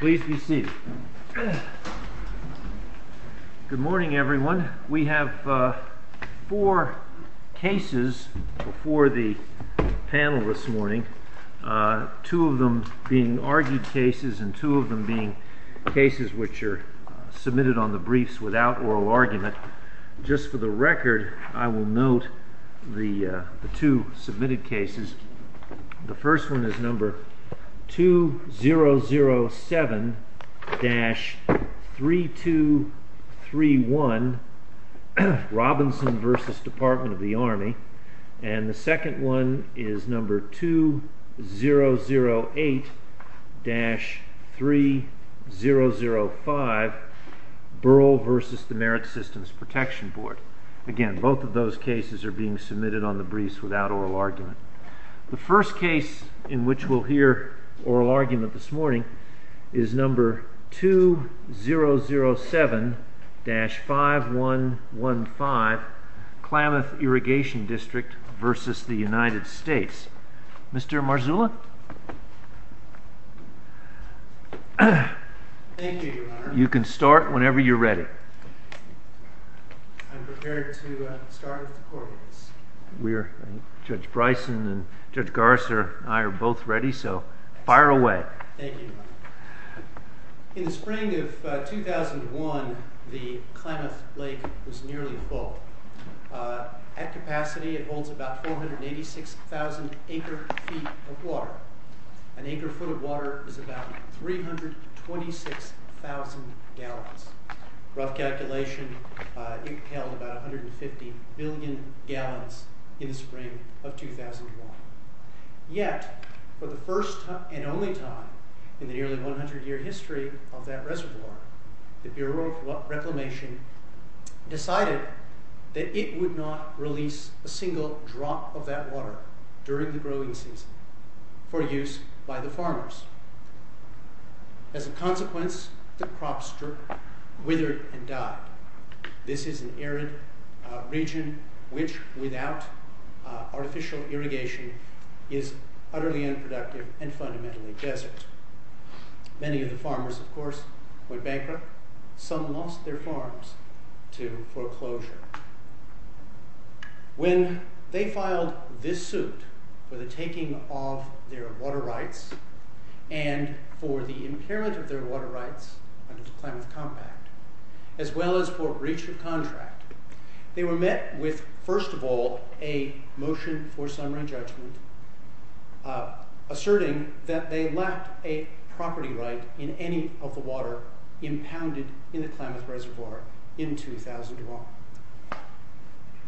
Please be seated. Good morning, everyone. We have four cases before the panel this morning, two of them being argued cases and two of them being cases which are submitted on the briefs without oral argument. Just for the record, I will note the two submitted cases. The first one is number 2007-3231, Robinson v. Department of the Army, and the second one is number 2008-3005, Burl v. the Merit Systems Protection Board. Again, both of those cases are being submitted on the briefs without oral argument. The first case in which we'll hear oral argument this morning is number 2007-5115, Klamath Irrigation District v. the United States. Mr. Marzulla? Thank you, Your Honor. You can start whenever you're ready. I'm prepared to start oral arguments. Judge Bryson and Judge Garza and I are both ready, so fire away. In the spring of 2001, the Klamath Lake was nearly 1,000 gallons of water. An acre full of water is about 326,000 gallons. Rough calculation, it held about 150 billion gallons in the spring of 2001. Yet, for the first and only time in the nearly 100-year history of that reservoir, the Bureau of Reclamation decided that it would not release a single drop of that water during the growing season for use by the farmers. As a consequence, the crop strip withered and died. This is an arid region which, without artificial irrigation, is utterly unproductive and fundamentally desert. Many of the farmers, of course, went bankrupt. Some lost their farms to foreclosure. When they filed this suit for the taking of their water rights and for the inheritance of their water rights under the Klamath Compact, as well as for breach of contract, they were met with, first of all, a motion for summary judgment asserting that they left a property right in any of the water impounded in a Klamath reservoir in 2001.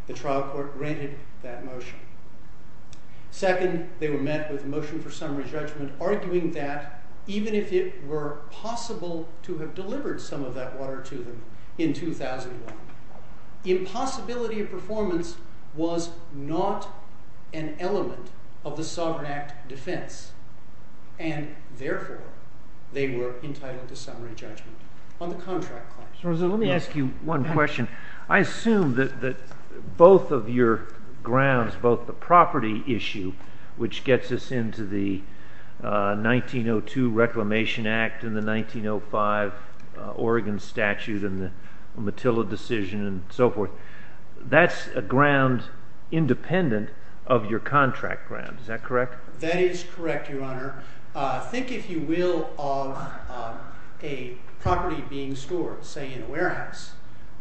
The trial court granted that motion. Second, they were met with a motion for summary judgment arguing that, even if it were possible to have delivered some of that water to the Klamath reservoir in 2001, the impossibility of performance was not an element of the Sovereign Act defense, and therefore they were entitled to summary judgment on the contract clause. Let me ask you one question. I assume that both of your grounds, both the property issue, which gets us into the Matilla decision and so forth, that's a ground independent of your contract ground. Is that correct? That is correct, Your Honor. Think, if you will, of a property being stored, say, in a warehouse.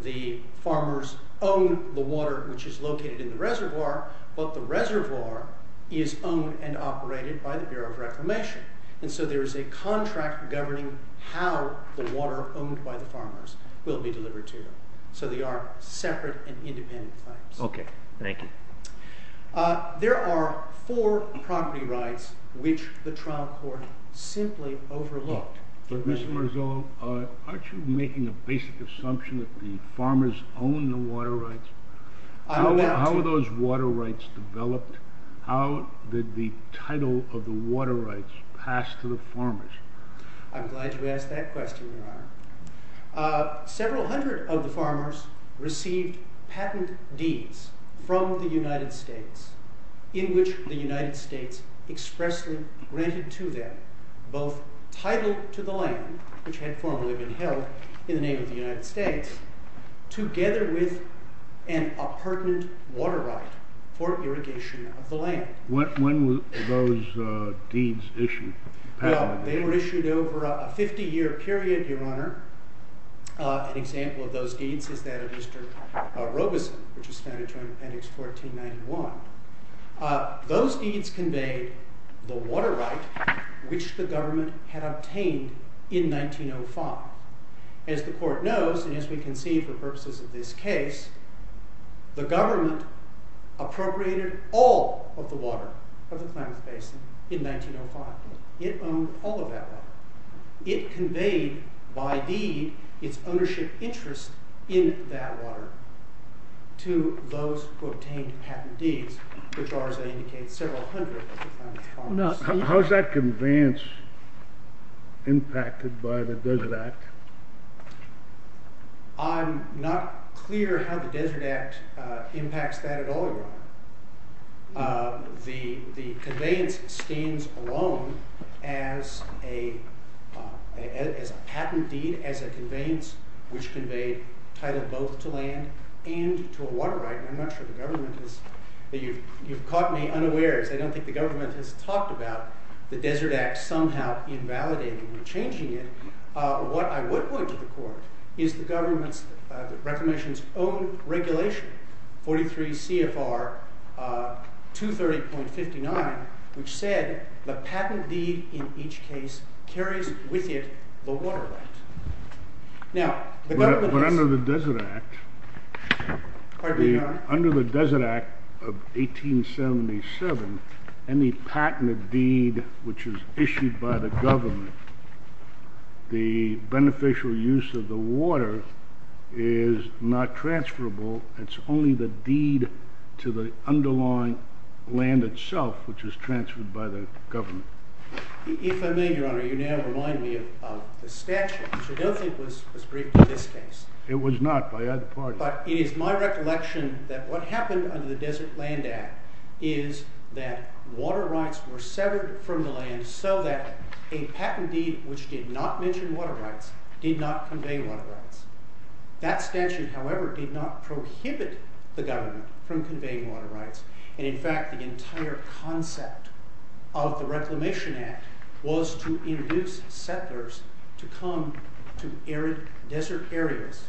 The farmers own the water, which is located in the reservoir, but the reservoir is owned and operated by the Bureau of Reformation. And so there is a contract governing how the water owned by the farmers will be delivered to you. So they are separate and independent claims. There are four property rights which the trial court simply overlooked. Mr. Marzullo, aren't you making a basic assumption that the farmers own the water rights? How were those water rights developed? How did the title of the water rights pass to the farmers? I'm glad you asked that question, Your Honor. Several hundred of the farmers received patent deeds from the United States, in which the United States expressly granted to them both title to the land, which had formerly been held in the name of the for irrigation of the land. When were those deeds issued? Well, they were issued over a 50 year period, Your Honor. An example of those deeds is that of Robeson, which is standard term in FedEx 1491. Those deeds conveyed the water right which the government had obtained in 1905. As the court knows, and as we can see for purposes of this case, the government appropriated all of the water from the climate basement in 1905. It owned all of that water. It conveyed by deed its ownership interest in that water to those who obtained patent deeds, which are, as I indicated, several hundred of the climate farmers. How is that conveyance impacted by the Desert Act? I'm not clear how the Desert Act impacts that at all, Your Honor. The conveyance stands alone as a patent deed, as a conveyance which conveyed title both to land and to a water right. I don't think the government has talked about the Desert Act somehow invalidating or changing it. What I would point to the court is the government's own regulation 43 CFR 230.59, which said the patent deed in each case carries with it the water rights. But under the Desert Act of 1877, any patent deed which is issued by the government, the beneficial use of the water is not transferable. It's only the deed to the underlying land itself which is transferred by the government. I don't think it was as brief as this case. It was not. But it is my recollection that what happened under the Desert Land Act is that water rights were severed from the land so that a patent deed which did not mention water rights did not convey water rights. That statute, however, did not prohibit the government from conveying water rights. In fact, the entire concept of the Reclamation Act was to induce settlers to come to desert areas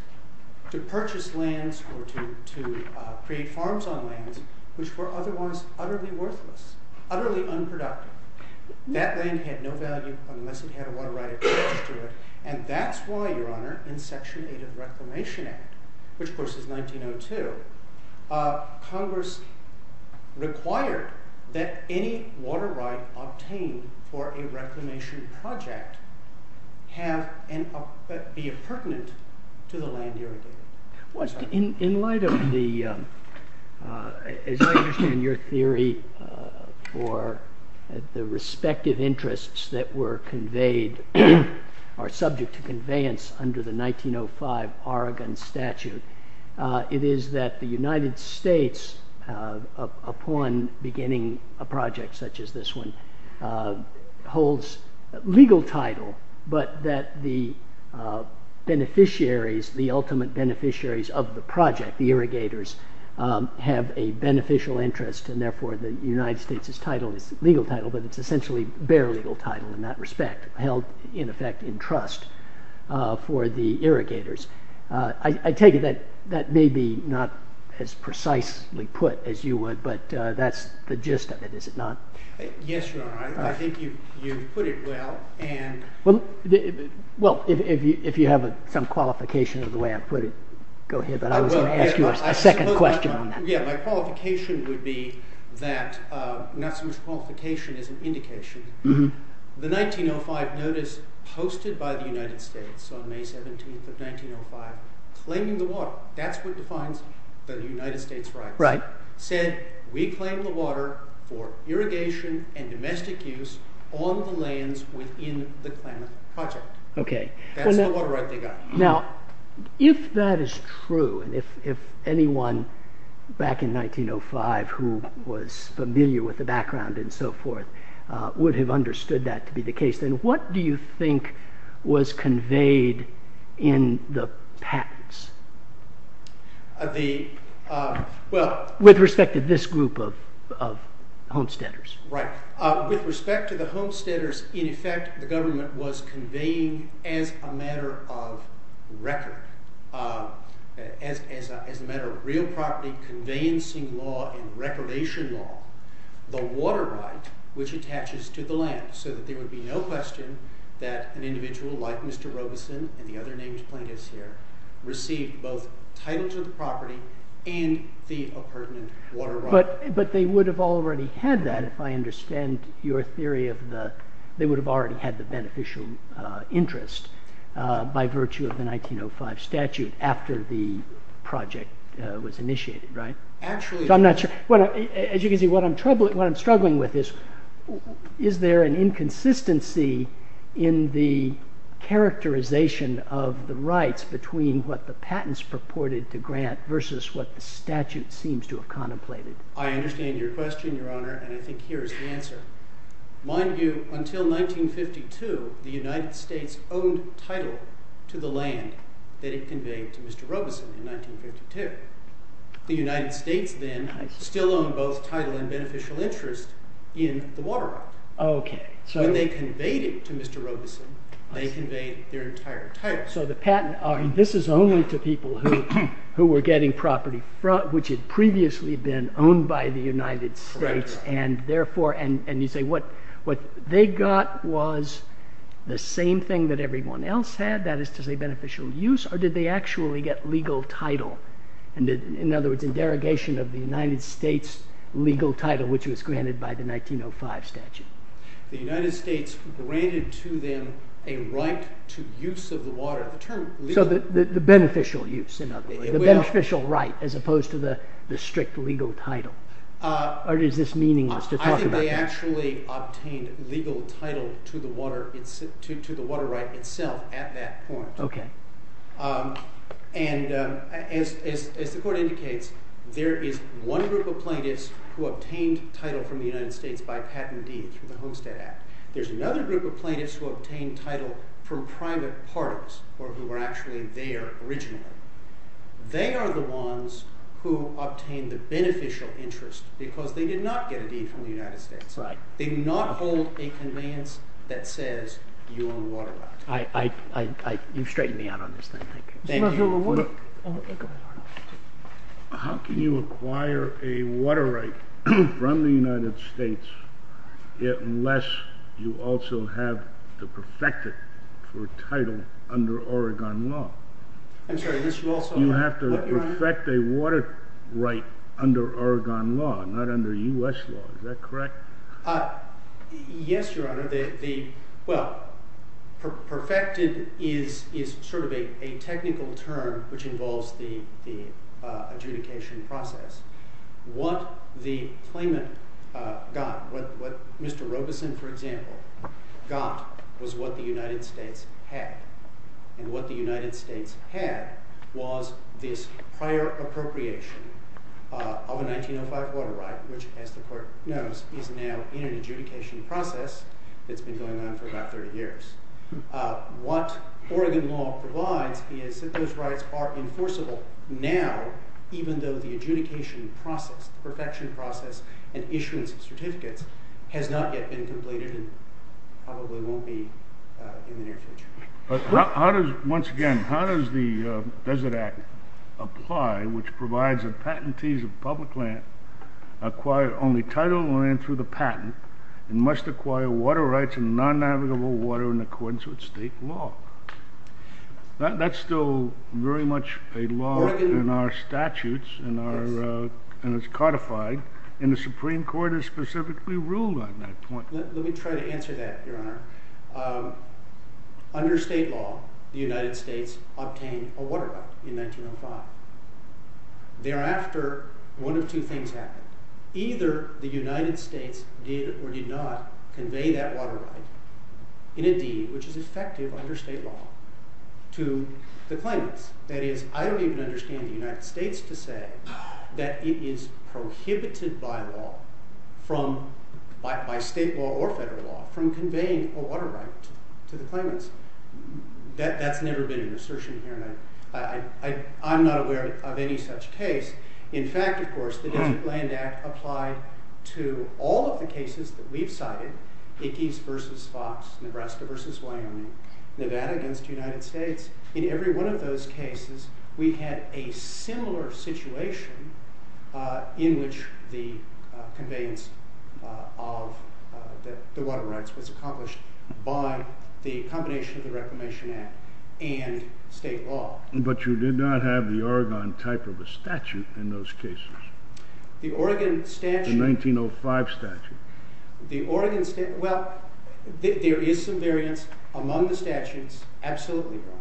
to purchase lands or to create farms on land which were otherwise utterly worthless, utterly unproductive. That land had no value unless it had a water right attached to it. And that's why, Your Honor, in Section 8 of the Reclamation Act, which of course is 1902, Congress required that any water right obtained for a reclamation project have the appurtenance to the land you're looking for. In light of the, as I understand your theory for the respective interests that were conveyed, are subject to conveyance under the 1905 Oregon statute, it is that the United States, upon beginning a project such as this one, holds legal title but that the beneficiaries, the ultimate beneficiaries of the project, the irrigators, have a beneficial interest and therefore the United States' title, legal title, but it's essentially bare legal title in that respect, held in effect in trust for the irrigators. I take it that that may be not as precisely put as you would, but that's the gist of it, is it not? Yes, Your Honor, I think you put it well and Well, if you have some qualification of the way I put it, go ahead, but I was going to ask you a second question on that. Yeah, my qualification would be that I've got some qualification as an indication. The 1905 notice posted by the United States on May 17th of 1905, claiming the water, that's what defines the United States right, said reclaim the water for irrigation and domestic use on the lands within the claimant project. That's the water right they got. Now, if that is true, and if anyone back in 1905 who was familiar with the background and so forth would have understood that to be the case, then what do you think was conveyed in the patents? Well, with respect to this group of homesteaders. Right. With respect to the homesteaders, in effect, the government was in effect, as a matter of real property conveyancing law and reclamation law, the water right, which attaches to the land, so that there would be no question that an individual like Mr. Robeson, and the other names plaintiffs here, received both title to the property and the appurtenant water right. But they would have already had that, if I understand your theory of the, they would have already had the beneficial interest by virtue of the 1905 statute after the project was initiated, right? What I'm struggling with is, is there an inconsistency in the characterization of the rights between what the patents purported to grant versus what the statute seems to have contemplated? I understand your question, Your Honor, and I think here's the answer. Mind you, until 1952, the United States owned title to the land they conveyed to Mr. Robeson in 1952. The United States then still owned both title and beneficial interest in the water right. When they conveyed it to Mr. Robeson, they conveyed their entire title. So the patent, this is only to people who were getting property, which had previously been owned by the United States, and therefore, and you say, what they got was the same thing that everyone else had, that is to say beneficial use, or did they actually get legal title? In other words, the derogation of the United States legal title, which was granted by the 1905 statute. The United States granted to them a right to use of the water. So the beneficial use, the beneficial right as opposed to the strict legal title, or is this meaningless to talk about? I think they actually obtained legal title to the water right itself at that point. Okay. And as the court indicates, there is one group of plaintiffs who obtained title from the United States by patent deed to the Homestead Act. There's another group of plaintiffs who obtained title from private parts or who were actually there originally. They are the ones who obtained the beneficial interest because they did not get a deed from the United States. They do not hold a conveyance that says you own the water right. You've straightened me out on this one. How can you acquire a water right from the United States unless you also have the perfected title under Oregon law? You have to perfect a water right under Oregon law, not under U.S. law. Is that correct? Yes, Your Honor. Well, perfected is sort of a technical term which involves the adjudication process. What the claimant got, what Mr. Robeson, for example, got was what the United States had. And what the United States had was this prior appropriation of a 1905 water right which, as the court knows, is now in an adjudication process that's been going on for about 30 years. What Oregon law provides is that those rights are enforceable now even though the adjudication process, perfection process, and issuance of certificates has not yet been completed and probably won't be in the near future. But how does, once again, how does the Desert Act apply which provides that patentees of public land acquire only title land through the patent and must acquire water rights and non-navigable water in accordance with state law? That's still very much a law in our statutes and is codified. And the Supreme Court has specifically ruled on that point. Let me try to answer that, Your Honor. Under state law, the United States obtained a water right in 1905. Thereafter, one of two things happened. Either the United States did or did not convey that water right in a deed which is effective under state law to the claimant. That is, I don't even understand the United States to say that it is prohibited by law, by state law or federal law, from conveying a water right to the claimant. That's never been an assertion, Your Honor. I'm not aware of any such case. In fact, of course, the Desert Land Act applied to all of the cases that we've cited, Ickes v. Fox, Nebraska v. Wyoming, Nevada v. United States. In every one of those cases, we had a similar situation in which the conveyance of the water rights was accomplished by the combination of the Reclamation Act and state law. But you did not have the Oregon type of a statute in those cases? The Oregon statute? The 1905 statute. Well, there is some variance among the statutes. Absolutely not.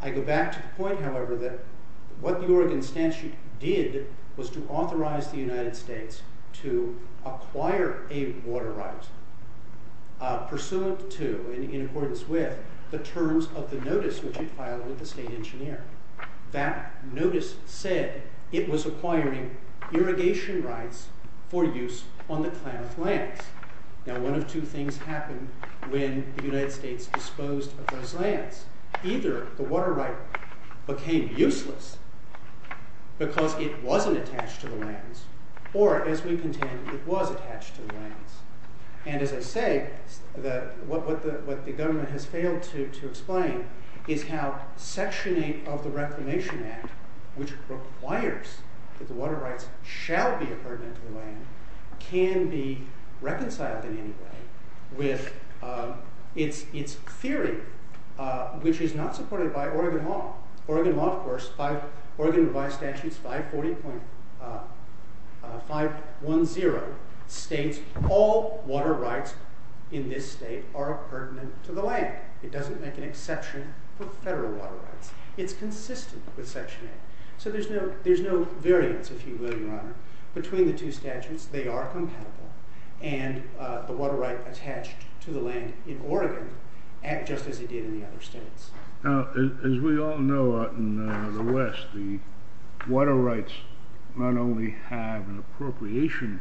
I go back to the point, however, that what the Oregon statute did was to authorize the United States to acquire a water right pursuant to, and in accordance with, the terms of the notice which it filed with the state engineer. That notice said it was acquiring irrigation rights for use on the planet's land. Now, one of two things happened when the United States disposed of those lands. Either the water right became useless because it wasn't attached to the lands, or, as we contend, it was attached to the lands. And as I say, what the government has failed to explain is how section 8 of the Reclamation Act, which requires that the water rights shall be pertinent to the land, can be reconciled in any way with its theory, which is not supported by Oregon law. Oregon law, of course, Oregon vice statute 540.510 states all water rights in this state are pertinent to the land. It doesn't make an exception for federal water rights. It's consistent with section 8. So there's no variance, if you will, Your Honor, between the two statutes. They are compatible, and the water rights attached to the land in Oregon act just as it did in the other states. Now, as we all know out in the West, the water rights not only have an appropriation,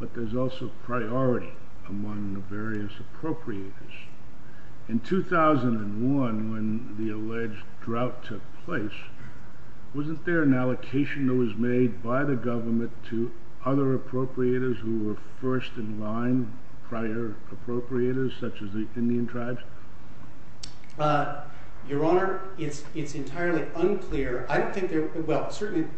but there's also priority among the various appropriators. In 2001, when the alleged drought took place, wasn't there an allocation that was made by the government to other appropriators who were first in line, prior appropriators, such as the Indian tribes? Your Honor, it's entirely unclear. I think the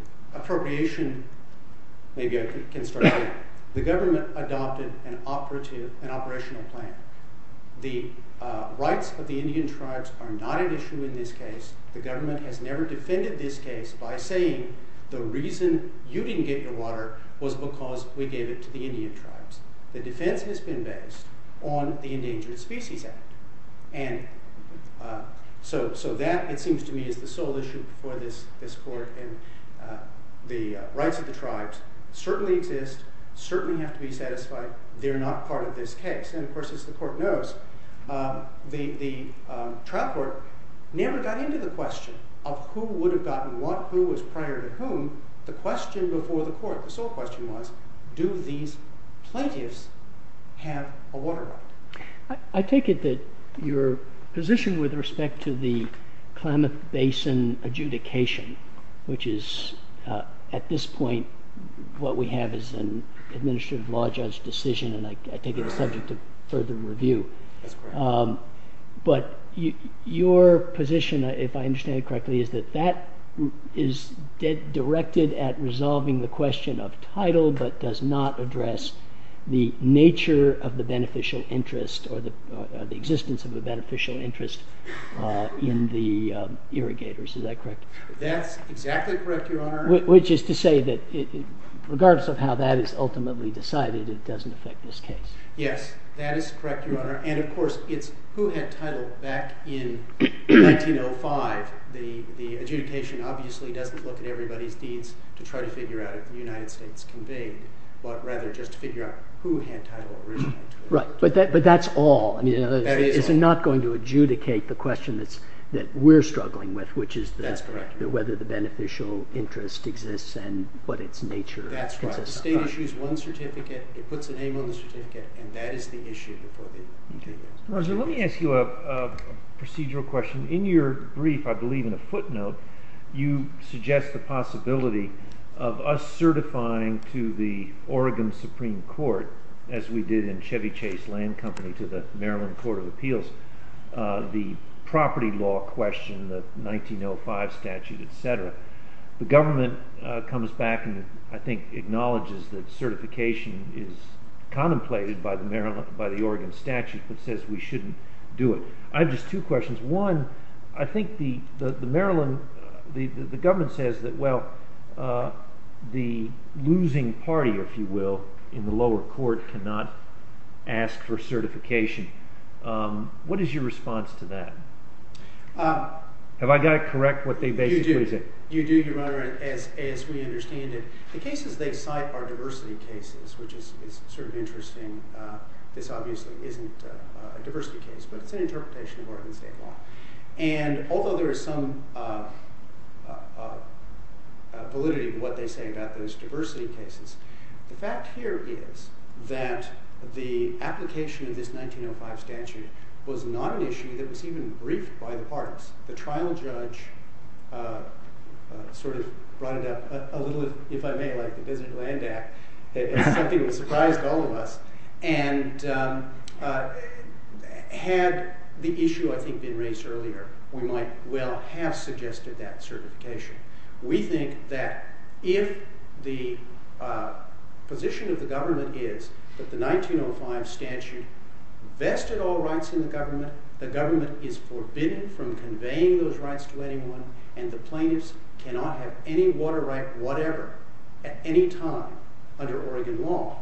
government adopted an operational plan. The rights of the Indian tribes are not at issue in this case. The government has never defended this case by saying the reason you didn't get your water was because we gave it to the Indian tribes. The defense has been based on the endangered species act. So that, it seems to me, is the sole issue for this court. The rights of the tribes certainly exist, certainly have to be satisfied. They're not part of this case. And, of course, as the court knows, the trial court never got into the question of who would have gotten what, who was prior to whom. The question before the court, the sole question was, do these plaintiffs have a water right? I take it that your basing adjudication, which is, at this point, what we have is an administrative law judge decision, and I take it as subject to further review. But your position, if I understand it correctly, is that that is directed at resolving the question of title, but does not address the nature of the beneficial interest or the existence of the beneficial interest in the irrigators. Is that correct? That's exactly correct, Your Honor. Which is to say that regardless of how that is ultimately decided, it doesn't affect this case. Yes, that is correct, Your Honor. And, of course, it's who had title back in 1905. The adjudication obviously doesn't look at everybody's deeds to try to figure out if the United States was conveyed, but rather just figure out who had title originally. Right, but that's all. It's not going to adjudicate the question that we're struggling with, which is whether the beneficial interest exists and what its nature is. That's right. The state issues one certificate, it puts it in one certificate, and that is the issue. Well, let me ask you a procedural question. In your brief, I believe in the footnote, you suggest the possibility of us certifying to the Oregon Supreme Court, as we did in Chevy Chase Land Company to the Maryland Court of Appeals, the property law question, the 1905 statute, et cetera. The government comes back and, I think, acknowledges that certification is contemplated by the Oregon statute that says we shouldn't do it. I have just two questions. One, I think the Maryland, the government says that, well, the losing party, if you will, in the lower court cannot ask for certification. What is your response to that? Have I got it correct, what they basically say? You do, Your Honor, as we understand it. The cases they cite are diversity cases, which is sort of interesting. This obviously isn't a diversity case, but it's an interpretation of Oregon State law. And although there is some validity in what they say about those diversity cases, the fact here is that the application of this 1905 statute was not an issue that was even briefed by the courts. The trial judge sort of brought it up a little, if I may, like the business land act, that I think it was a private problem of, and had the issue, I think, been raised earlier, we might well have suggested that certification. We think that if the position of the government is that the 1905 statute vested all rights in the government, the government is forbidden from conveying those rights to anyone, and the plaintiffs cannot have any water right, whatever, at any time under Oregon law,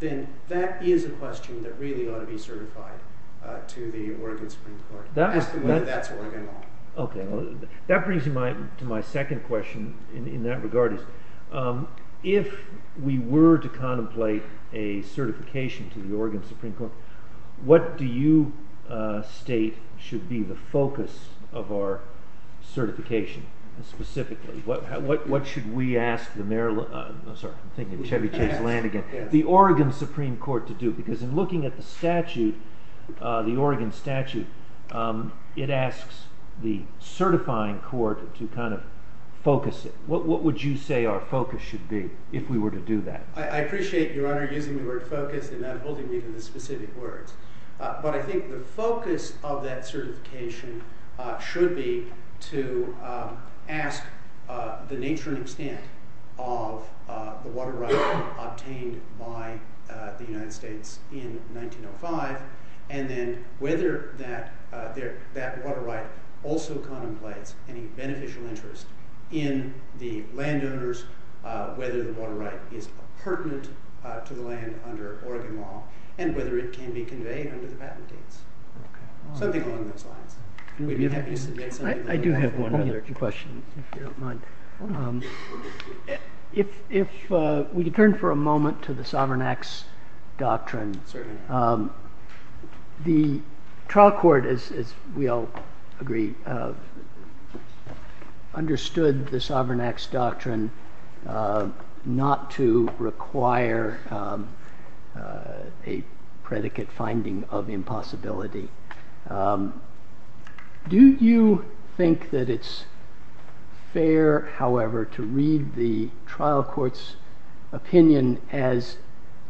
then that is a question that really ought to be certified to the Oregon Supreme Court. That brings me to my second question in that regard. If we were to contemplate a certification to the Oregon Supreme Court, what do you state should be the focus of our certification specifically? What should we ask the Oregon Supreme Court to do? Because in looking at the statute, the Oregon statute, it asks the certifying court to kind of focus it. What would you say our focus should be if we were to do that? I appreciate your honor using the word focus and not holding me to the specific words. But I think the focus of that certification should be to ask the nature and extent of the water rights obtained by the United States in 1905, and then whether that water right also contemplates any beneficial interest in the landowners, whether the water right is pertinent to the land under Oregon law, and whether it can be conveyed under the patent date. Something along those lines. I do have one other question, if you don't mind. If we could turn for a moment to the Sovereign Acts Doctrine. The trial court, as we all agree, understood the Sovereign Acts Doctrine not to require a predicate finding of impossibility. Do you think that it's fair, however, to read the trial court's opinion as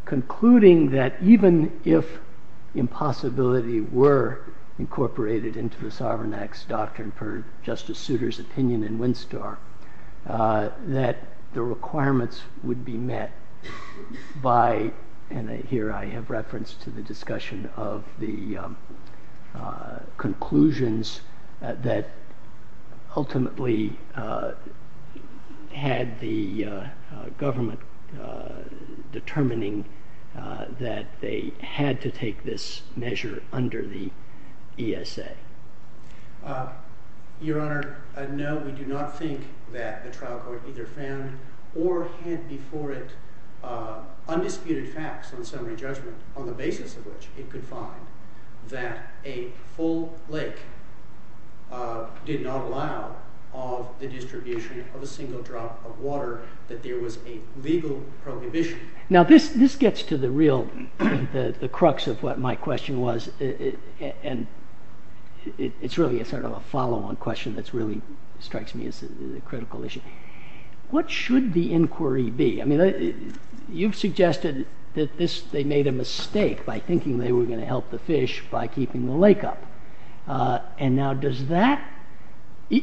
concluding that even if impossibility were incorporated into the Sovereign Acts Doctrine, per Justice Souter's opinion in Winstar, that the requirements would be met by the trial court? And here I have reference to the discussion of the conclusions that ultimately had the government determining that they had to take this measure under the ESA. Your Honor, no, we do not think that the trial court either found or had before it undisputed facts on the basis of which it could find that a full lake did not allow the distribution of a single drop of water, that there was a legal prohibition. Now this gets to the real, the crux of what my question was and it's really a sort of a follow-on question that really strikes me as a critical issue. What should the inquiry be? You've suggested that they made a mistake by thinking they were going to help the fish by keeping the lake up, and now does that,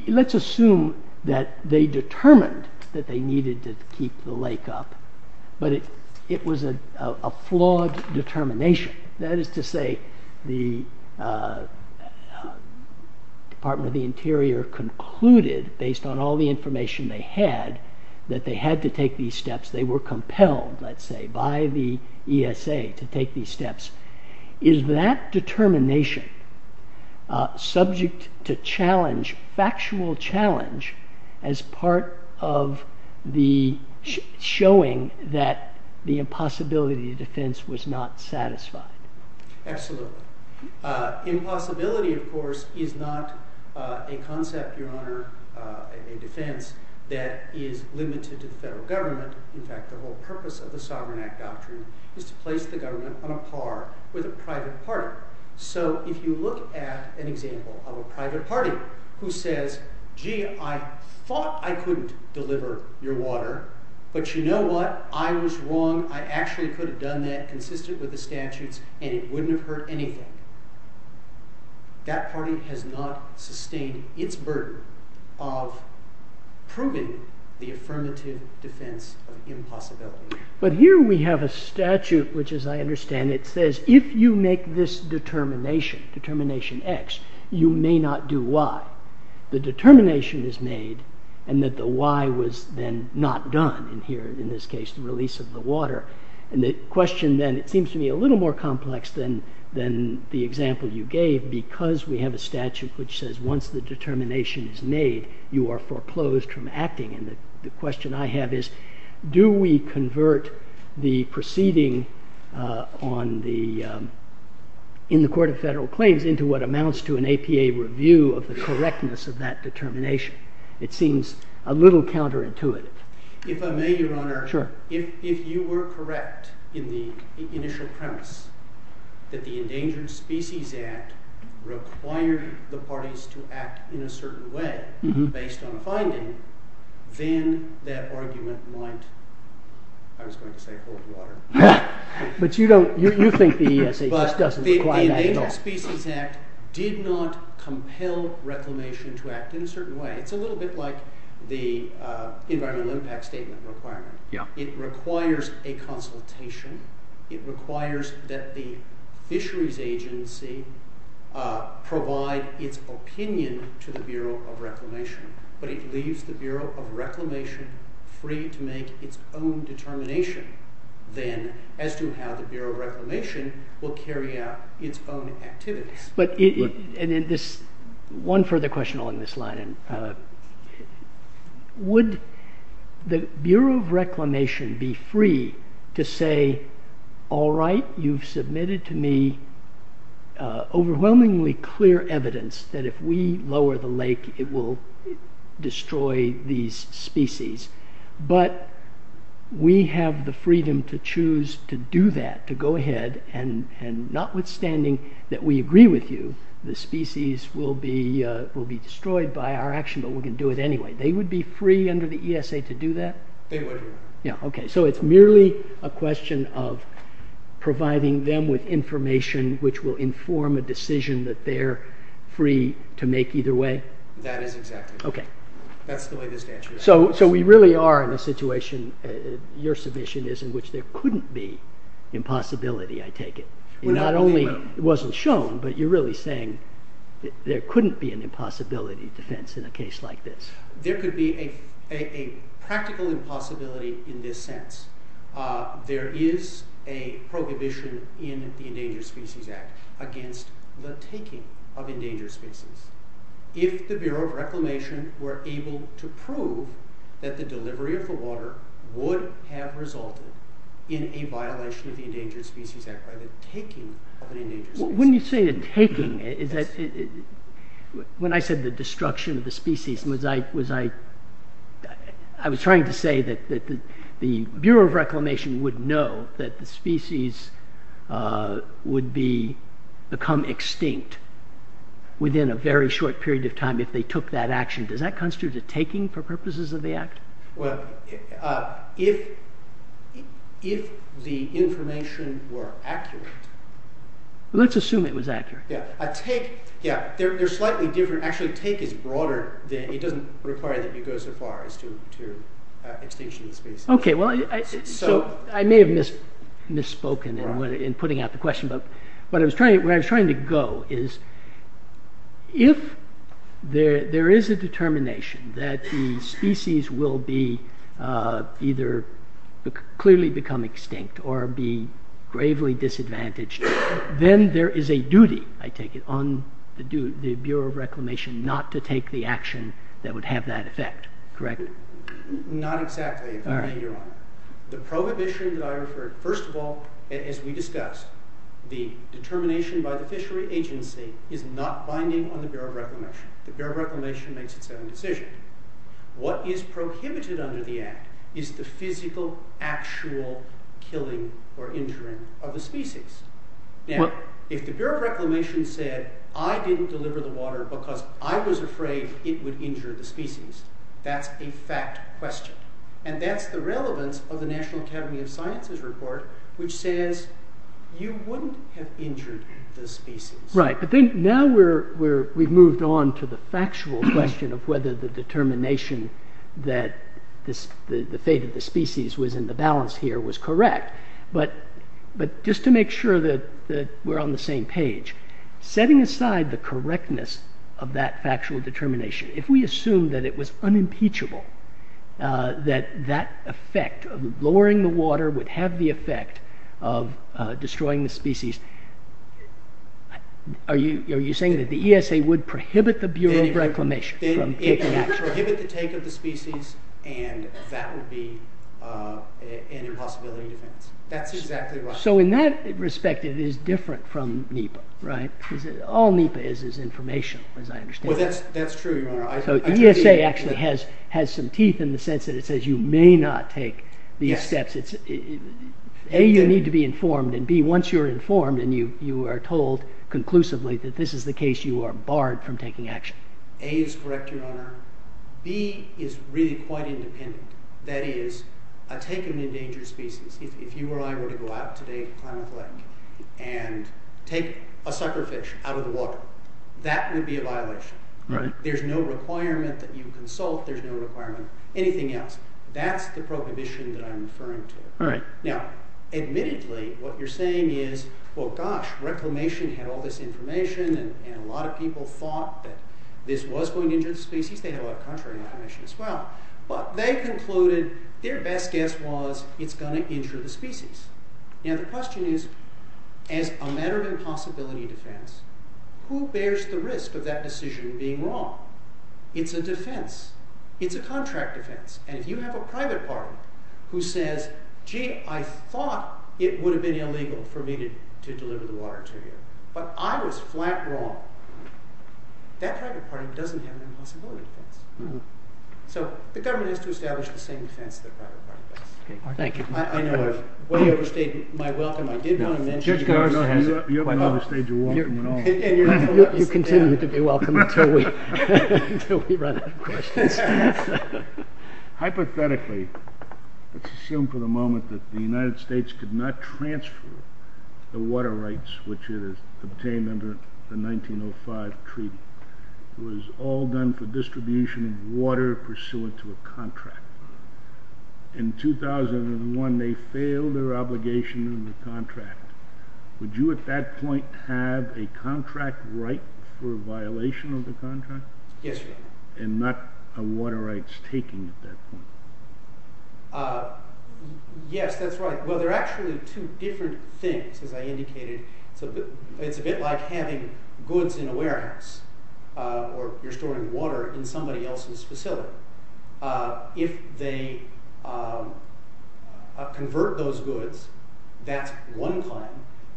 let's assume that they determined that they needed to keep the lake up, but it was a flawed determination. That is to say the Department of the Interior concluded, based on all the information they had, that they had to take these steps. They were compelled, let's say, by the ESA to take these steps. Is that determination subject to challenge, factual challenge, as part of the showing that the impossibility of defense was not satisfied? Absolutely. Impossibility, of course, is not a concept, Your Honor, in defense that is limited to the federal government. In fact, the whole purpose of the Sovereign Act doctrine is to place the government on a par with a private party. So if you look at an example of a private party who says, gee, I thought I could deliver your water, but you know what? I was wrong. I actually could have done that consistent with the statutes and it wouldn't have hurt anything. That party has not sustained its burden of proving the affirmative defense of impossibility. But here we have a statute which, as I understand it, says if you make this determination, determination X, you may not do Y. The determination is made and that the Y was then not done in this case, the release of the water. And the question then seems to me a little more complex than the example you are foreclosed from acting. And the question I have is, do we convert the proceeding in the Court of Federal Claims into what amounts to an APA review of the correctness of that determination? It seems a little counterintuitive. If I may, Your Honor, if you were correct in the initial premise that the Endangered Species Act required the parties to act in a certain way based on filing, then that argument might, I was going to say hold water. But you don't, you think the EESA doesn't require that at all. The Endangered Species Act did not compel reclamation to act in a certain way. It's a little bit like the Environmental Impact Statement requirement. It requires a entity to provide its opinion to the Bureau of Reclamation, but it leaves the Bureau of Reclamation free to make its own determination then, as to how the Bureau of Reclamation will carry out its own activities. But, and in this, one further question along this line, would the Bureau of Reclamation be free to say, all right, you've submitted to me overwhelmingly clear evidence that if we lower the lake it will destroy these species, but we have the freedom to choose to do that, to go ahead, and notwithstanding that we agree with you, the species will be destroyed by our action, but we can do it Yeah, okay, so it's merely a question of providing them with information which will inform a decision that they're free to make either way? That is exactly right. That's the latest answer. So we really are in a situation, your submission is, in which there couldn't be impossibility, I take it. Not only wasn't shown, but you're really saying there couldn't be an impossibility defense in a case like this? There could be a practical impossibility in this sense. There is a prohibition in the Endangered Species Act against the taking of endangered species. If the Bureau of Reclamation were able to prove that the delivery of the water would have resulted in a violation of the Endangered Species Act by the taking When you say the taking, when I said the destruction of the species, I was trying to say that the Bureau of Reclamation would know that the species would become extinct within a very short period of time if they took that action. Does that constitute a taking for purposes of the act? Well, if the information were accurate. Let's assume it was accurate. Actually, the take is broader. It doesn't require that you go so far as to extinction the species. I may have misspoken in putting out the question, but where I'm trying to go is if there is a determination that the species will either clearly become extinct or be gravely disadvantaged, then there is a duty, I take it, on the Bureau of Reclamation not to take the action that would have that effect, correct? Not exactly. The prohibition that I referred to, first of all, as we discussed, the determination by the fishery agency is not binding on the Bureau of Reclamation. The Bureau of Reclamation makes its own decision. What is prohibited under the act is the physical, actual killing or injuring of the species. If the Bureau of Reclamation said, I didn't deliver the water because I was afraid it would injure the species, that's a fact question. That's the relevance of the National Academy of Sciences report, which says you wouldn't have injured the species. We've moved on to the factual question of whether the determination that the fate of the species was in the balance here was correct. Just to make sure that we're on the same page, setting aside the correctness of that factual determination, if we assume that it was unimpeachable, that that effect of lowering the water would have the effect of destroying the species, are you saying that the ESA would prohibit the Bureau of Reclamation from taking action? It would prohibit the take of the species and that would be an impossibility. In that respect, it is different from NEPA. All NEPA is is information, as I understand it. ESA actually has some teeth in the sense that it says you may not take these steps. A, you need to be informed and B, once you're informed and you are told conclusively that this is the case, you are barred from taking action. A is correct your manner. B is really quite independent. That is, I take an endangered species. If you or I were to go out today and take a sucker fish out of the water, that would be a violation. There's no requirement that you consult. There's no requirement. Anything else. That's the prohibition that I'm referring to. Now, admittedly, what you're saying is well, gosh, Reclamation had all this information and a lot of people thought that this was going to injure the species. They had a lot of contrary information as well. Their best guess was it's going to injure the species. As a matter of impossibility defense, who bears the risk of that decision being wrong? It's a defense. It's a contract defense. And if you have a private party who says, gee, I thought it would have been illegal for me to deliver the water to you, but I was flat wrong. That private party doesn't have an impossibility defense. So the government has to establish the same defense as a private party does. I know I overstayed my welcome. I did want to mention that. You have another stage of welcome. You continue to be welcome until we run out of questions. Hypothetically, assume for the moment that the United States could not transfer the water rights, which it has obtained under the 1905 treaty. It was all done for distribution of water pursuant to a contract. In 2001, they failed their obligation in the contract. Would you at that point have a contract right for a violation of the contract? Yes, sir. And not a water rights taking at that point? Yes, that's right. Well, there are actually two different things, as I indicated. It's a bit like having goods in a warehouse, or you're storing water in somebody else's facility. If they convert those goods, that's one time.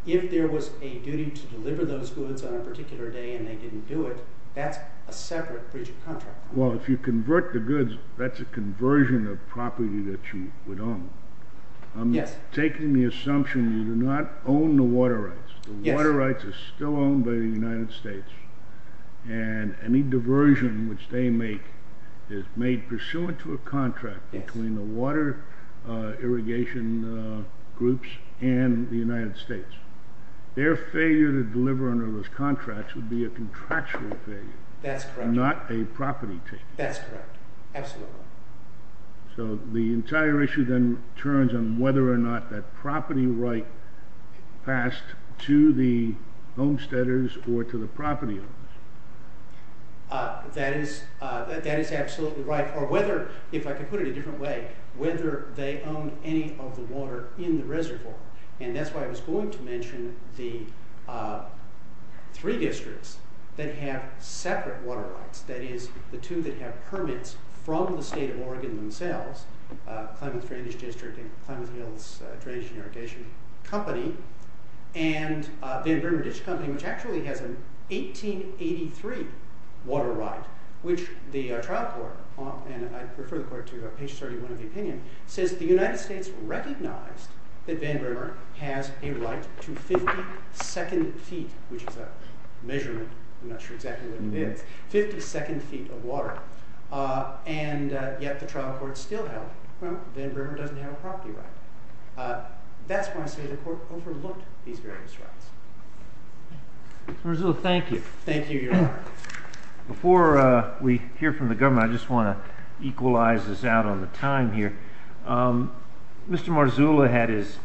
If there was a duty to deliver those goods on a particular day and they didn't do it, that's a separate breach of contract. Well, if you convert the goods, that's a conversion of property that you would own. I'm taking the assumption you do not own the water rights. The water rights are still owned by the United States. And any diversion which they make is made pursuant to a contract between the water irrigation groups and the United States. Their failure to deliver under those contracts would be a contractual failure. That's correct. Not a property taking. That's correct. Absolutely. So the entire issue then turns on whether or not that property right is passed to the homesteaders or to the property owners. That is absolutely right, or whether, if I could put it a different way, whether they own any of the water in the reservoir. And that's why I was going to mention the three districts that have separate water rights. That is, the two that have permits from the state of Oregon themselves, the Plymouth Drainage District and Plymouth Hills Drainage and Irrigation Company, and the Van Der Mer Ditch Company, which actually has an 1883 water right, which the trial court, and I refer the court to page 31 of the opinion, says the United States recognized that Van Der Mer has a right to 52nd feet, which is a measurement, I'm not sure exactly what it is, 52nd feet of water. And yet the trial court still held that Van Der Mer doesn't have a property right. That's why I say the court overlooked these various rights. Mr. Marzullo, thank you. Thank you, Your Honor. Before we hear from the government, I just want to equalize this out on the time here. Mr. Marzullo had his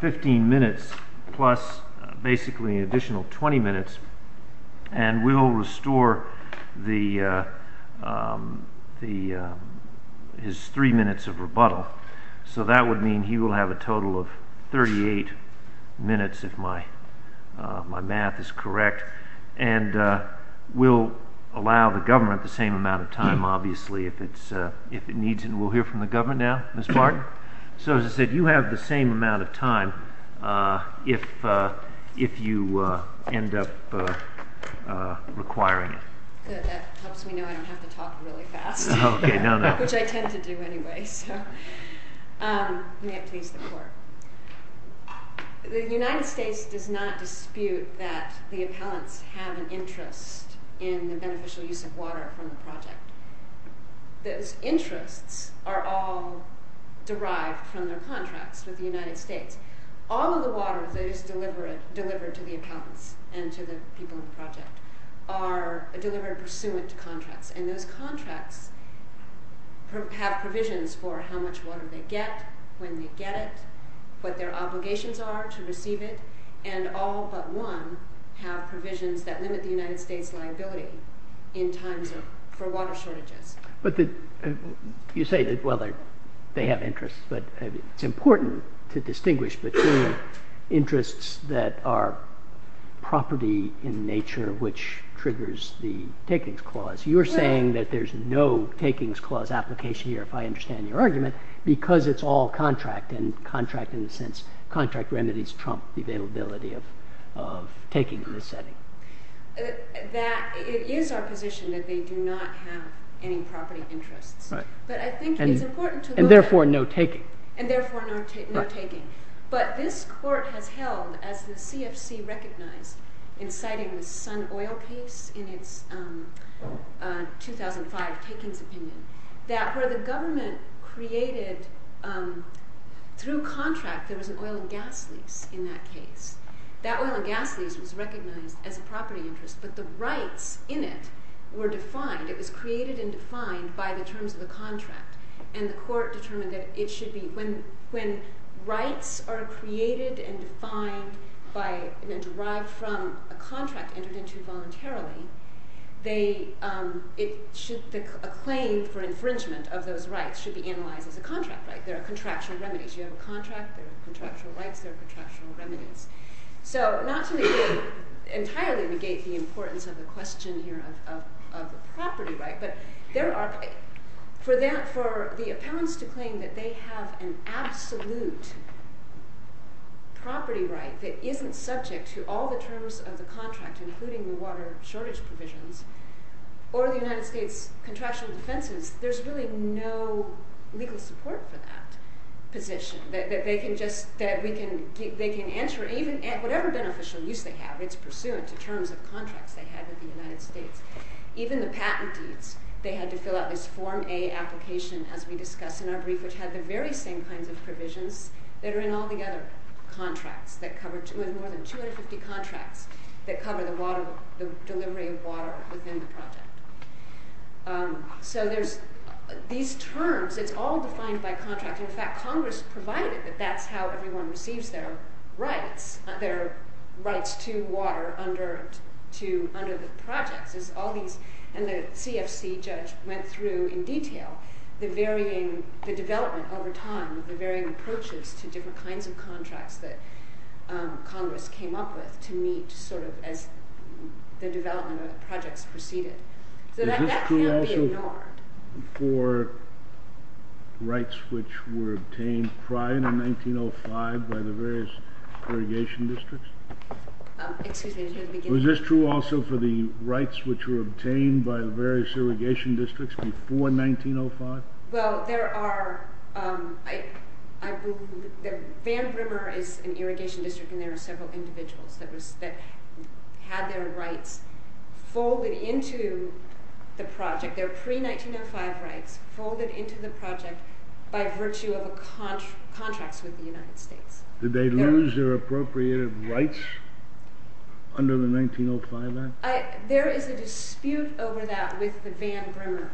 15 minutes plus basically an additional 20 minutes, and we will restore his three minutes of rebuttal. So that would mean he will have a total of 38 minutes, if my math is correct. And we'll allow the government the same amount of time, obviously, if it needs it. And we'll hear from the government now, Ms. Barton. So as I said, you have the same amount of time if you end up requiring it. That helps me know I don't have to talk really fast. Okay, no, no. Which I tend to do anyway. The United States does not dispute that the accountants have an interest in the beneficial use of water from the project. Those interests are all derived from the contracts of the United States. All of the water that is delivered to the accountants and to the people in the project are delivered pursuant to contracts. And those contracts have provisions for how much water they get, when they get it, what their obligations are to receive it, and all but one have provisions that limit the United States' liability in terms of the water shortage. You say that they have interests, but it's important to distinguish between interests that are property in nature, which triggers the takings clause. You're saying that there's no takings clause application here, if I understand your argument, because it's all contract, and contract in the sense contract remedies prompt the availability of taking in this setting. That is our position, that they do not have any property of interest. But I think it's important to look at... And therefore, no taking. And therefore, no taking. But this court has held, as the CFC recognized in citing the Sun Oil case in its 2005 takings opinion, that where the government created through contracts, there was an oil and gas lease in that case. That oil and gas lease was recognized as a property interest, but the rights in it were defined. It was created and defined by the terms of the contract. And the court determined that it should be... When rights are created and defined by... A claim for infringement of those rights should be analyzed as a contract right. There are contractual remedies. You have a contract, there are contractual rights, there are contractual remedies. So, not to entirely negate the importance of the question here of property rights, but for the appellants to claim that they have an absolute property right that isn't subject to all the terms of the contract, including the water shortage provisions, or the United States contractual exemptions, there's really no legal support for that position. That they can just... That we can... They can enter... Whatever beneficial use they have, it's pursuant to terms of contract they have in the United States. Even the patentees, they had to fill out this Form A application, as we discussed in our brief, which had the very same kinds of provisions that are in all the other contracts that cover... More than 250 contracts that cover the water... The delivery of water within the project. So, there's... These terms, it's all defined by contract. In fact, Congress provided that that's how everyone receives their rights, their rights to water under the project. It's all these... And the CFC judge went through in detail the varying... Development over time, the varying approaches to different kinds of contracts that Congress came up with to meet, sort of, as the development of the project proceeded. Is this true also for rights which were obtained prior to 1905 by the various irrigation districts? Excuse me. Was this true also for the rights which were obtained by the various irrigation districts before 1905? Well, there are... Van Brimmer is an irrigation district, and there are several individuals that had their rights folded into the project. Their pre-1905 rights folded into the project by virtue of contracts with the United States. Did they lose their appropriated rights under the 1905 Act? There is a dispute over that with the Van Brimmer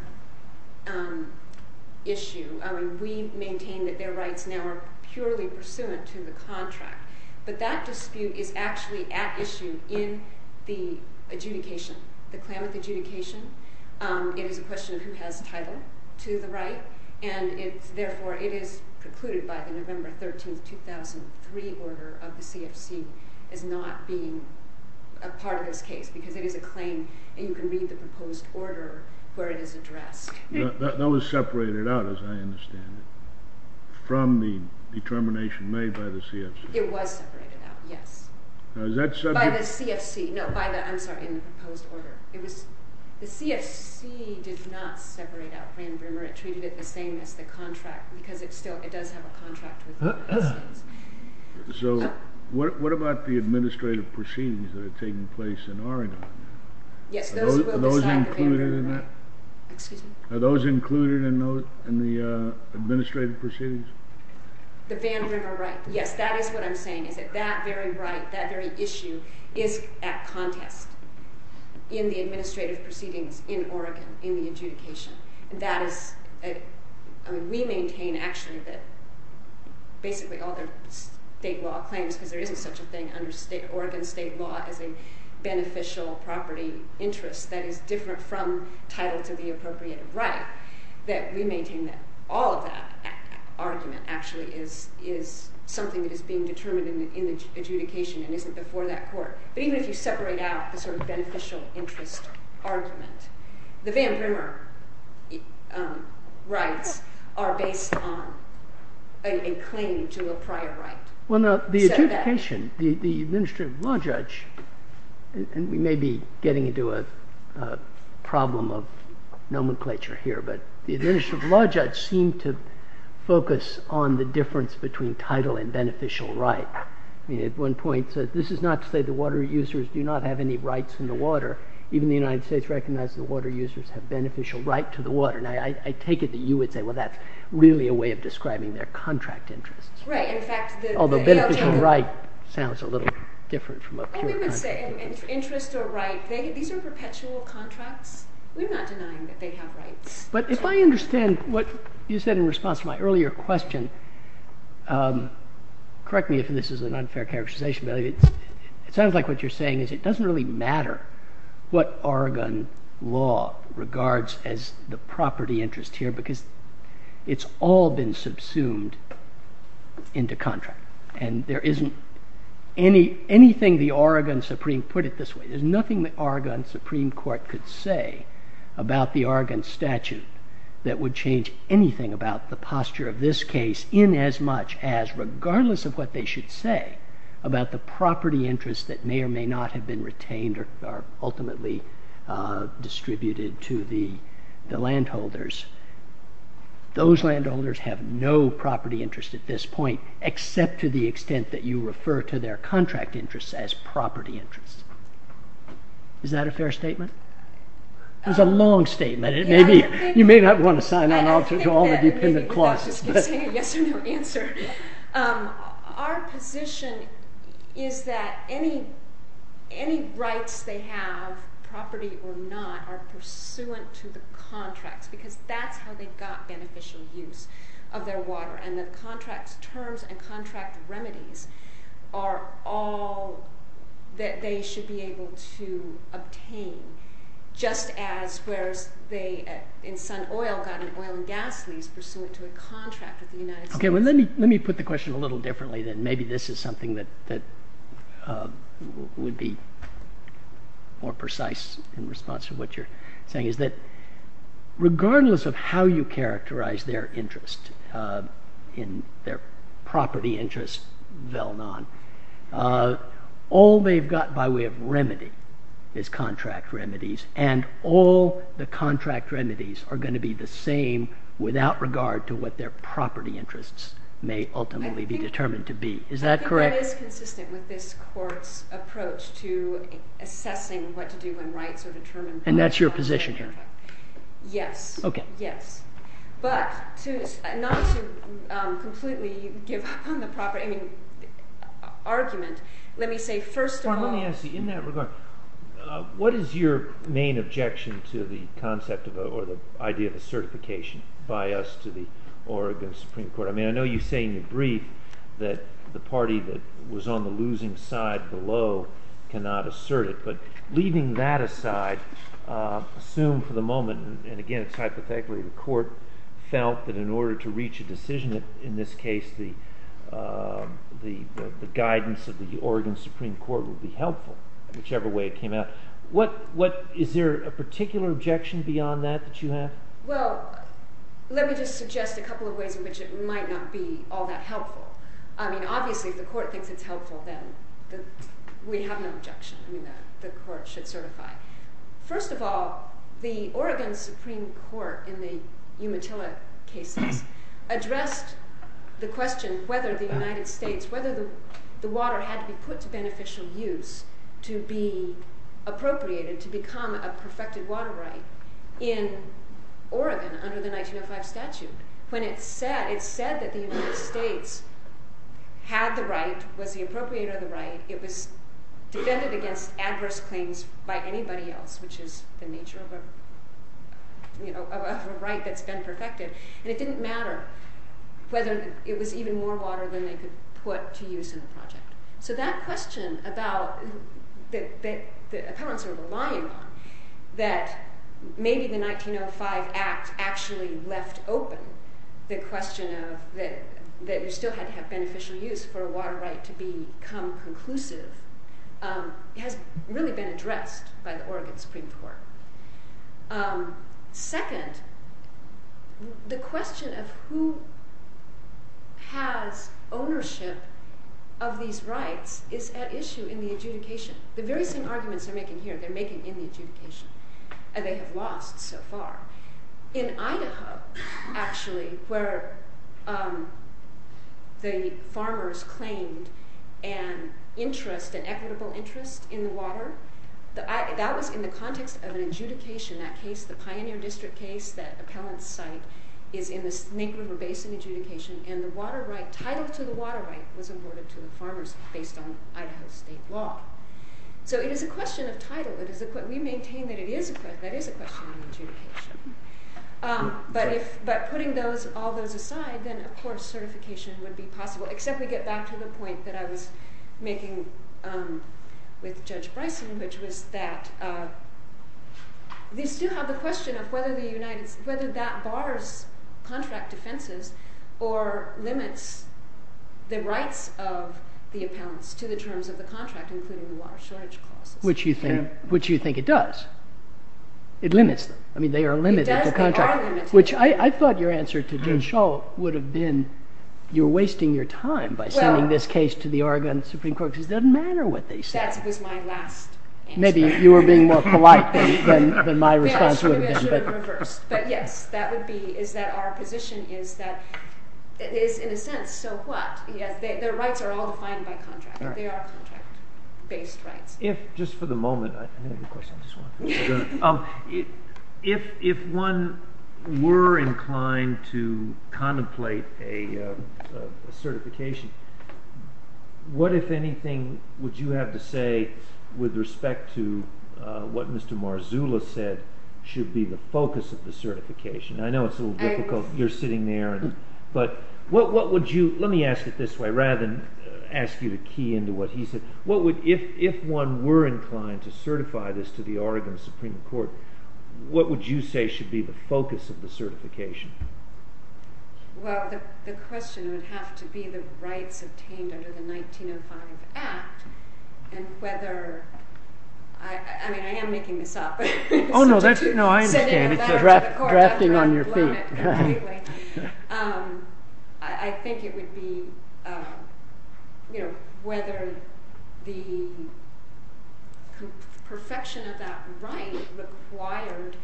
issue. We maintain that their rights now are purely pursuant to the contract, but that dispute is actually at issue in the adjudication. The claimant's adjudication is the person who has title to the right, and therefore it is precluded by the November 13, 2003 order of the CFC as not being a part of this case, because it is a claim, and you can read the proposed order where it is addressed. That was separated out, as I understand it, from the determination made by the CFC. It was separated out, yes. Now, is that subject... By the CFC, no, I'm sorry, in the proposed order. It was... The CFC did not separate out Van Brimmer. It treated it the same as the contract, because it still, it does have a contract... So, what about the administrative proceedings that are taking place in Oregon? Yes, those... Are those included in that? Excuse me? Are those included in the administrative proceedings? The Van Brimmer rights, yes, that is what I'm saying, is that that very right, that very issue is at contest in the administrative proceedings in Oregon, in the adjudication. That is... I mean, we maintain, actually, that basically all the state law claims, because there isn't such a thing under Oregon state law as a beneficial property interest that is different from title to the appropriated right, that we maintain that all of that argument actually is something that is being determined in the adjudication and isn't before that court. Even if you separate out the sort of beneficial interest argument, the Van Brimmer rights are based on a claim to a prior right. Well, now, the adjudication, the administrative law judge, and we may be getting into a problem of nomenclature here, but the administrative law judge seemed to focus on the difference between title and beneficial right. At one point said, this is not to say the water users do not have any rights in the water. Even the United States recognizes the water users have beneficial right to the water. Now, I take it that you would say, well, that's really a way of describing their contract interest. Right. Although beneficial right sounds a little different from a court contract. Interest or right, these are perpetual contracts. We're not denying that they have rights. But if I understand what you said in response to my earlier question, correct me if this is an unfair characterization, it sounds like what you're saying is it doesn't really matter what Oregon law regards as the property interest here because it's all been subsumed into contract. And there isn't anything the Oregon Supreme put it this way. There's nothing the Oregon Supreme Court could say about the Oregon statute that would change anything about the posture of this case in as much as, about the property interest that may or may not have been retained or ultimately distributed to the landholders. Those landholders have no property interest at this point except to the extent that you refer to their contract interest as property interest. Is that a fair statement? It's a long statement. You may not want to sign on to all the dependent clauses. Our position is that any rights they have, property or not, are pursuant to the contract because that's how they got beneficial use of their water. And the contract terms and contract remedies are all that they should be able to obtain just as where they in some oil got an oil and gas lease pursuant to a contract with the United States. Okay, well let me put the question a little differently then. Maybe this is something that would be more precise in response to what you're saying is that regardless of how you characterize their interest in their property interest, all they've got by way of remedy is contract remedies and all the contract remedies are going to be the same without regard to what their property interests may ultimately be determined to be. Is that correct? That is consistent with this court's approach to assessing what to do when rights are determined. And that's your position here? Yes. Okay. Yes. But not to completely give the proper argument, let me say first of all... Well, let me ask you in that regard, what is your main objection to the concept or the idea of a certification by us to the Oregon Supreme Court? I mean, I know you say in your brief that the party that was on the losing side below cannot assert it, but leaving that aside, assume for the moment, and again it's hypothetical, the court felt that in order to reach a decision, in this case the guidance of the Oregon Supreme Court would be helpful, whichever way it came out. Is there a particular objection beyond that that you have? Well, let me just suggest a couple of ways in which it might not be all that helpful. I mean, obviously if the court thinks it's helpful, then we have no objection. I mean, the court should certify. First of all, the Oregon Supreme Court in the Umatilla case addressed the question whether the United States, whether the water had to be put to beneficial use to be appropriated, to become a perfected water right in Oregon under the 1905 statute. When it said that the United States had the right, was the appropriator of the right, it was defended against adverse claims by anybody else, which is the nature of a right that's been perfected, and it didn't matter whether it was even more water than they could put to use in the project. So that question about the powers that were aligned, that maybe the 1905 Act actually left open the question that you still had to have beneficial use for a water right to become conclusive, has really been addressed by the Oregon Supreme Court. Second, the question of who has ownership of these rights is at issue in the adjudication. But there are some arguments they're making here. They're making in the adjudication, and they have lost so far. In Idaho, actually, where the farmers claimed an interest, an equitable interest in the water, that was in the context of an adjudication. That case, the Pioneer District case, that appellant's site, is in the Mink River Basin adjudication, and the title to the water right was awarded to the farmers based on Idaho state law. So it is a question of title. We maintain that it is a question of adjudication. But putting all those aside, then, of course, certification would be possible, except to get back to the point that I was making with Judge Bryson, which was that we still have the question of whether that borders contract defenses or limits the rights of the appellants to the terms of the contract, including the water shortage clause. Which you think it does. It limits them. I mean, they are limited to the contract. Which I thought your answer to Jim Shull would have been, you're wasting your time by sending this case to the Oregon Supreme Court, because it doesn't matter what they say. That was my last answer. Maybe you were being more polite than my response would have been. But yes, that would be, is that our position is that, in a sense, so what? Their rights are all defined by contract. They are based rights. Just for the moment, I have a question. If one were inclined to contemplate a certification, what, if anything, would you have to say with respect to what Mr. Marzullo said should be the focus of the certification? I know it's a little difficult. You're sitting there. But what would you, let me ask it this way, rather than ask you to key into what he said. If one were inclined to certify this to the Oregon Supreme Court, what would you say should be the focus of the certification? Well, the question would have to be the rights obtained under the 1905 Act and whether, I mean, I am making this up. Oh, no, I understand. It's a grafting on your feet. Anyway, I think it would be, you know, whether the perfection of that right required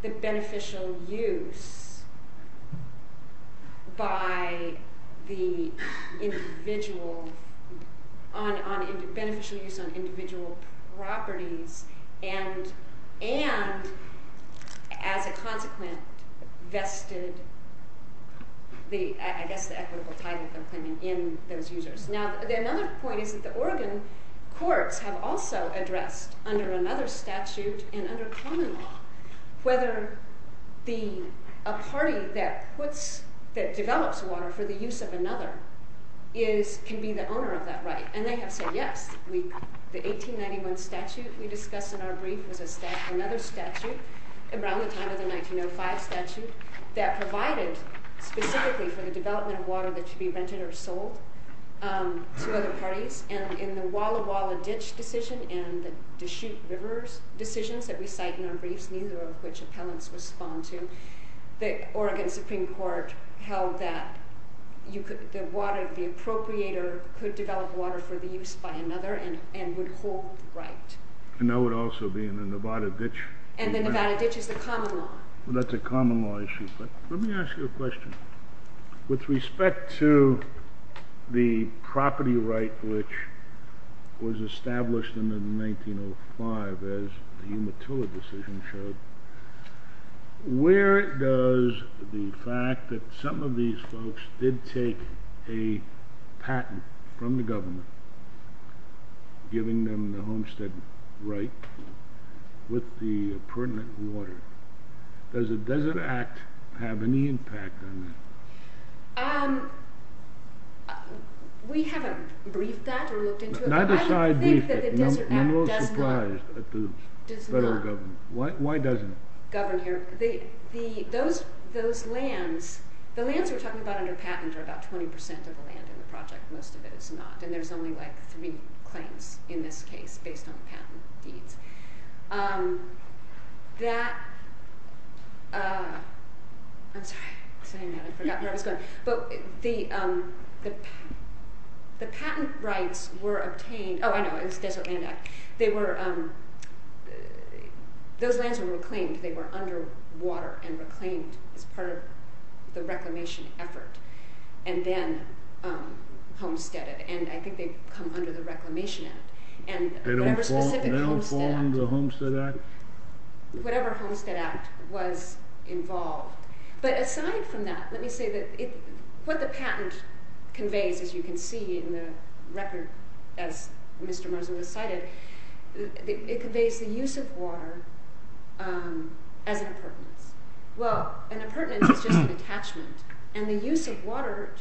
the beneficial use by the individual on individual properties and, as a consequence, vested the, I guess, the equitable title in those users. Now, another point is that the Oregon courts have also addressed under another statute and under common law whether a party that develops water for the use of another can be the owner of that right. And they have said yes. The 1891 statute that we discussed in our brief is another statute, the Brown v. Brown of the 1905 statute, that provided specifically for the development of water that should be rented or sold to other parties. And in the Walla Walla Ditch decision and the Deschutes River decision that we cite in our brief, neither of which opponents respond to, the Oregon Supreme Court held that you could, that the water, the procreator could develop water for the use by another and would hold the right. And that would also be in the Nevada Ditch. And the Nevada Ditch is the common law. That's a common law issue. Let me ask you a question. With respect to the property right which was established in 1905, as the Umatilla decision showed, where does the fact that some of these folks did take a patent from the government, giving them the homestead right with the pertinent water, does it have any impact on that? We haven't briefed that. I'm a little surprised at the federal government. Why doesn't it? Governor, those lands, the lands we're talking about under patent are about 20% of the land in the project. The rest of it is not. And there's only like three claims in this case based on patent fees. That, the patent rights were obtained, oh, I know, they were, those lands were reclaimed. They were under water and reclaimed as part of the reclamation effort. And then homesteaded. And I think they come under the reclamation act. They don't fall under the Homestead Act? Whatever Homestead Act was involved. But aside from that, let me say that what the patent conveys, as you can see in the record, it conveys the use of water as an apartment. Well, an apartment is just an attachment. And the use of water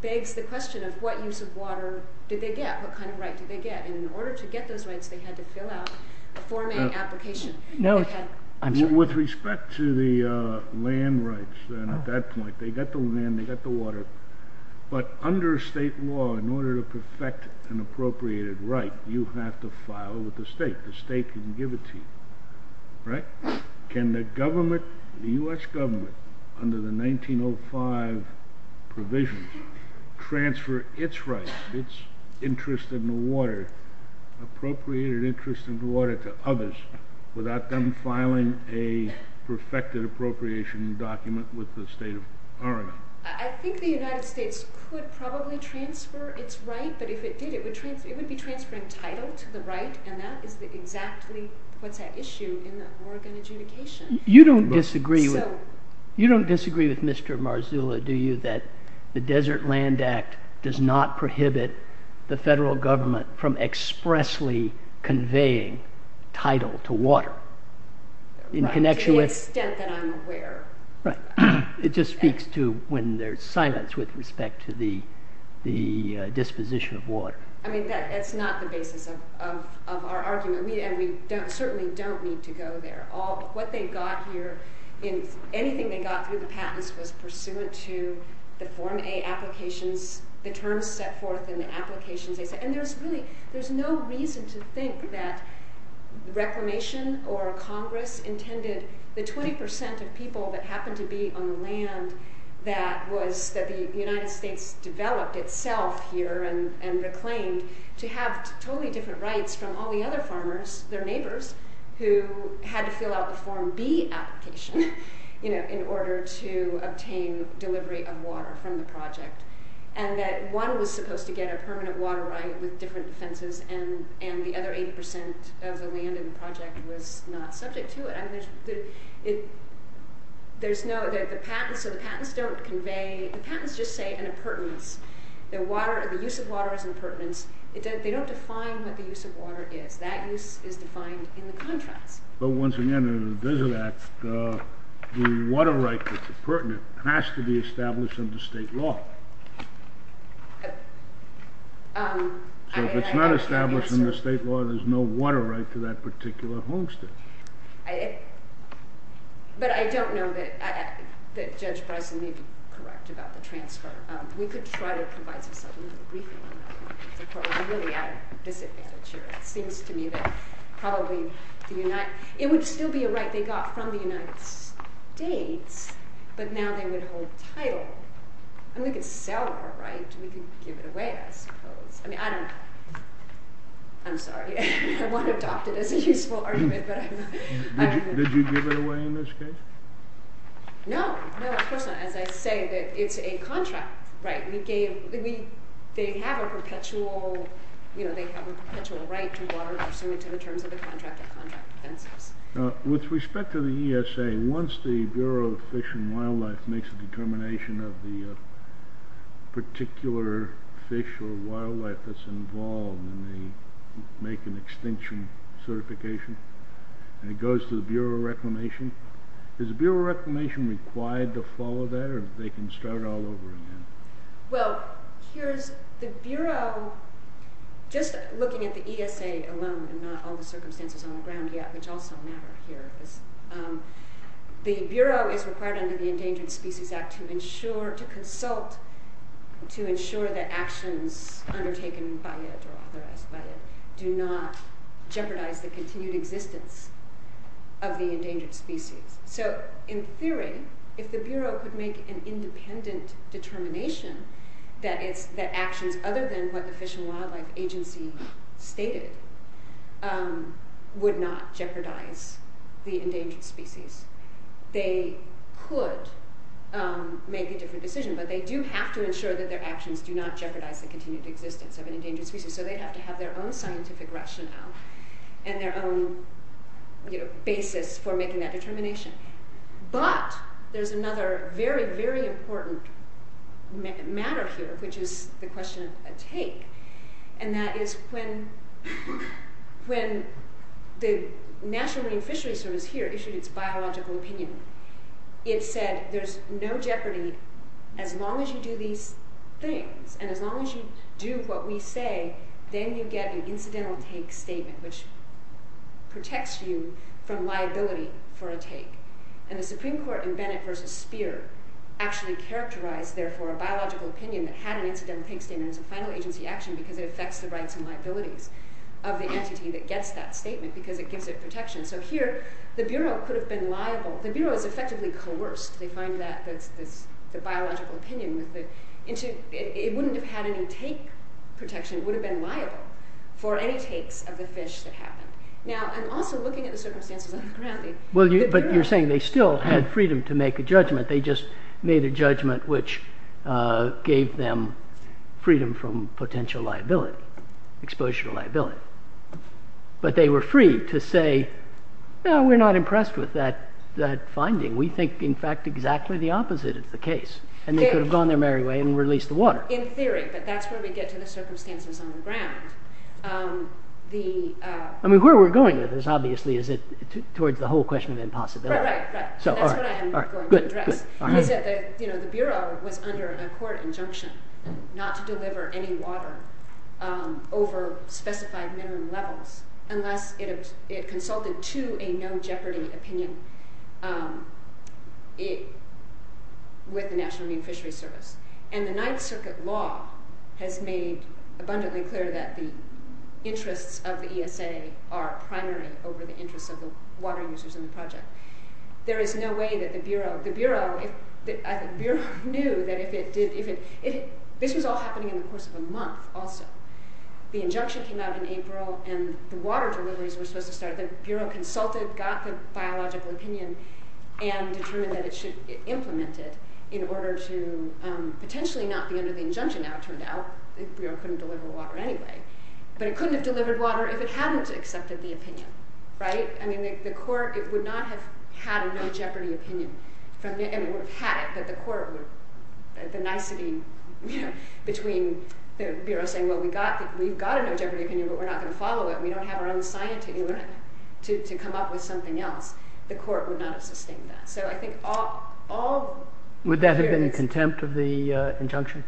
begs the question of what use of water did they get? What kind of rights did they get? In order to get those rights, they had to fill out a form and application. With respect to the land rights, they get the land, they get the water. But under state law, in order to perfect an appropriated right, you have to file with the state. The state can give it to you. Right? Can the government, the U.S. government, under the 1905 provisions, transfer its rights, its interest in the water, appropriated interest in the water to others, without them filing a perfected appropriation document with the state of Oregon? I think the United States could probably transfer its rights, but if it didn't, it would be transferring title to the right, and that is exactly what's at issue in Oregon adjudication. You don't disagree with Mr. Marzullo, do you, that the Desert Land Act does not prohibit the federal government from expressly conveying title to water? To the extent that I'm aware. Right. It just speaks to when there's silence with respect to the disposition of water. I mean, that's not the basis of our argument, and we certainly don't need to go there. All of what they got here, anything they got through the patents was pursuant to the Form A applications, the terms set forth in the applications. And there's really, there's no reason to think that the Reformation or Congress intended the 20% of people that happened to be on the land that the United States developed itself here and declaimed to have totally different rights from all the other farmers, their neighbors, who had to fill out the Form B application in order to obtain delivery of water from the project, and that one was supposed to get a permanent water right and the other 80% of the land in the project was not subject to it. I mean, there's no, the patents don't convey, the patents just say an impertinence. The use of water is impertinent. They don't define what the use of water is. That use is defined in the contract. But once again, in the revision act, the water right that's impertinent has to be established in the state law. So if it's not established in the state law, there's no water right to that particular homestead. But I don't know that Judge Breslin may be correct about the transfer. We could try to provide the funding, but we don't know. We probably really ought to visit that. It's your experience to me that probably, to unite, it would still be a right they got from the United States, but now they withhold the title. And we could sell our rights. We could give it away. I mean, I don't know. I'm sorry. I want to adopt it as a useful argument, but I'm not. Did you give it away in this case? No. As I say, it's a contract. Right. They have a perpetual right to water pursuant to the terms of the contract. With respect to the ESA, once the Bureau of Fish and Wildlife makes a determination of the particular fish or wildlife that's involved, and they make an extension certification, and it goes to the Bureau of Reclamation, is the Bureau of Reclamation required to follow that, or they can start all over again? Well, the Bureau, just looking at the ESA alone, and not all the circumstances on the ground yet, which also matters here, the Bureau is required under the Endangered Species Act to ensure, to consult, to ensure that actions undertaken by or authorized by it do not jeopardize the continued existence of the endangered species. So, in theory, if the Bureau could make an independent determination that actions other than what the Fish and Wildlife Agency stated would not jeopardize the endangered species, they could make a different decision, but they do have to ensure that their actions do not jeopardize the continued existence of an endangered species, so they have to have their own scientific rationale and their own basis for making that determination. But, there's another very, very important matter here, which is the question of a take, and that is when the National Marine Fishery Service here issued its biological opinion, it said there's no jeopardy as long as you do these things, and as long as you do what we say, then you get an incidental take statement, which protects you from liability for a take. And the Supreme Court in Bennett v. Speer actually characterized, therefore, a biological opinion that had an incidental take statement as a final agency action because it affects the rights and liabilities of the entity that gets that statement because it gives it protection. So, here, the Bureau could have been liable. The Bureau is effectively coerced. They find that the biological opinion was that it wouldn't have had any take protection. It would have been liable for any take of the fish to happen. Now, I'm also looking at the circumstances around me. Well, but you're saying they still had freedom to make a judgment. They just made a judgment which gave them freedom from potential liability, exposure to liability. But they were free to say, well, we're not impressed with that finding. We think, in fact, exactly the opposite is the case, and they could have gone their merry way and released the water. In theory, but that's where we get to the circumstances on the ground. I mean, where we're going with this, obviously, is towards the whole question of impossibility. Right, right. So, all right. Good, good. You know, the Bureau was under a court injunction not to deliver any water over specified minimum levels unless it consulted to a no-jeopardy opinion with the National Marine Fisheries Service. And the Ninth Circuit law has made abundantly clear that the interests of the ESA are primary over the interests of the water users in the project. There is no way that the Bureau... The Bureau knew that if it... This was all happening in the course of a month, also. The injunction came out in April, and the water deliveries were supposed to start if the Bureau consulted, got some biological opinion, and determined that it should implement it in order to potentially not be under the injunction, now it turned out. The Bureau couldn't deliver the water anyway. But it couldn't have delivered water if it hadn't accepted the opinion. Right? I mean, the court would not have had a no-jeopardy opinion. I mean, it would have had it, but the court was... There's a nicety between the Bureau saying, well, we've got a no-jeopardy opinion, but we're not going to follow it. We don't have our own science to come up with something else. The court would not have sustained that. So I think all... Would that have been in contempt of the injunction?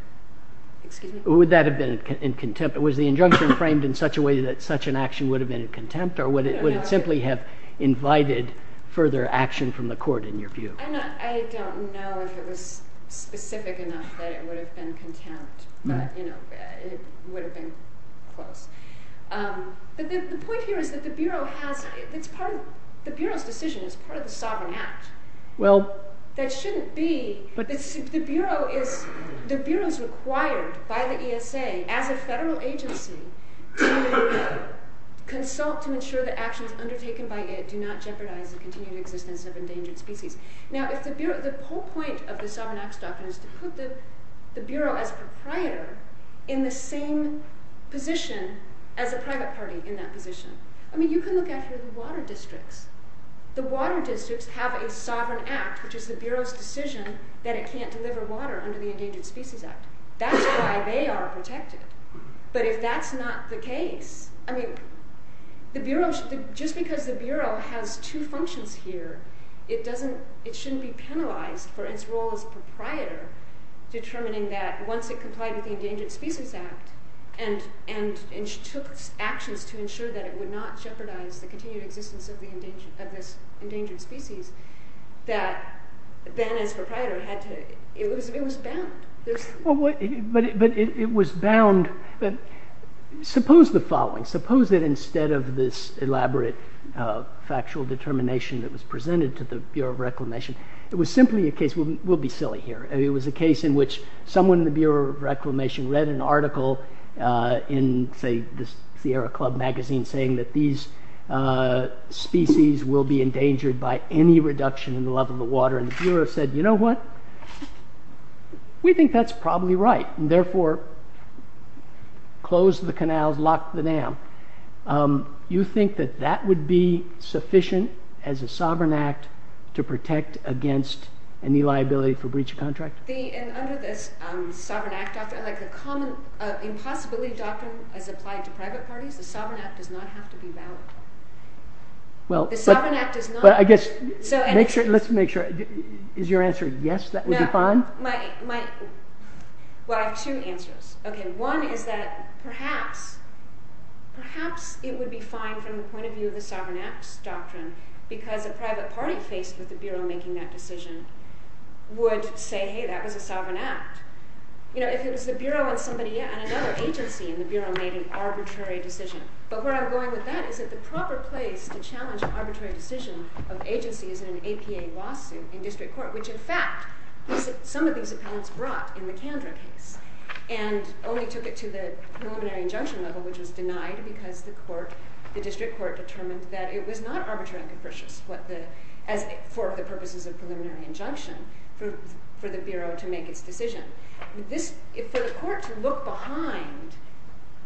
Excuse me? Would that have been in contempt? Was the injunction framed in such a way that such an action would have been in contempt, or would it simply have invited further action from the court, in your view? I don't know if it was specific enough that it would have been contempt. You know, it would have been... But the point here is that the Bureau has... It's part of... The Bureau's decision is part of the sovereign act. Well... That shouldn't be... But... The Bureau is... The Bureau is required by the ESA, as a federal agency, to consult and ensure that action is undertaken by it and do not jeopardize the continued existence of endangered species. Now, if the Bureau... The whole point of the sovereign act stuff is to put the Bureau as a proprietor in the same position as the private party in that position. I mean, you can look at the water districts. The water districts have a sovereign act, which is the Bureau's decision that it can't deliver water under the Endangered Species Act. That's why they are protected. But if that's not the case... I mean... The Bureau... Just because the Bureau has two functions here, it doesn't... For its role as proprietor, determining that once it complied with the Endangered Species Act and took actions to ensure that it would not jeopardize the continued existence of the endangered species, that Ben, as proprietor, had to... It was bound. But it was bound... Suppose the following. Suppose that instead of this elaborate factual determination that was presented to the Bureau of Reclamation, it was simply a case... We'll be silly here. It was a case in which someone in the Bureau of Reclamation read an article in, say, the Sierra Club magazine saying that these species will be endangered by any reduction in the level of water. And the Bureau said, You know what? We think that's probably right. And therefore, close the canal, lock the dam. You think that that would be sufficient as a sovereign act to protect against any liability for breach of contract? And under this sovereign act doctrine, like a common impossibility doctrine as applied to private parties, the sovereign act does not have to be valid. The sovereign act does not... But I guess... Let's make sure. Is your answer yes, that would be fine? My... Well, I have two answers. One is that perhaps... Perhaps it would be fine from the point of view of the sovereign act doctrine because the private parties faced with the Bureau making that decision would say, Hey, that was a sovereign act. You know, if the Bureau or somebody... Another agency in the Bureau made an arbitrary decision. But where I'm going with that is that the proper place to challenge arbitrary decisions of agencies in an APA lawsuit in district court, which, in fact, some of these opponents brought in the Canberra case and only took it to the preliminary injunction level, which was denied because the court, the district court, determined that it was not arbitrary to put this for the purposes of preliminary injunction for the Bureau to make its decision. If the courts look behind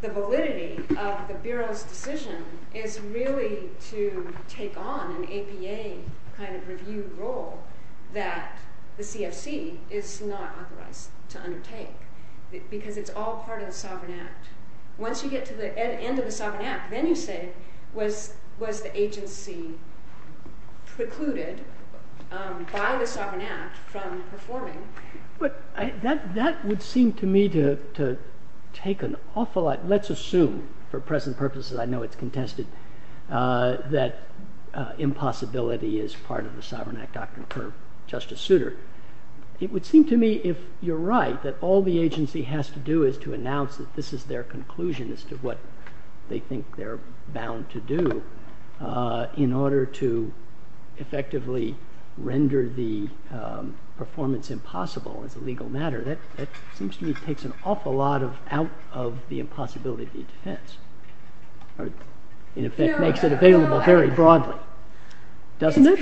the validity of the Bureau's decision, it's really to take on an APA kind of review role that the CFC is not authorized to undertake because it's all part of the sovereign act. Once you get to the end of the sovereign act, then you say, was the agency precluded by the sovereign act from performing? That would seem to me to take an awful lot... Let's assume, for present purposes, I know it's contested, that impossibility is part of the sovereign act doctrine for Justice Souter. It would seem to me, if you're right, that all the agency has to do is to announce that this is their conclusion as to what they think they're bound to do in order to effectively render the performance impossible as a legal matter. That seems to me takes an awful lot out of the impossibility defense. In effect, makes it available very broadly. Doesn't it?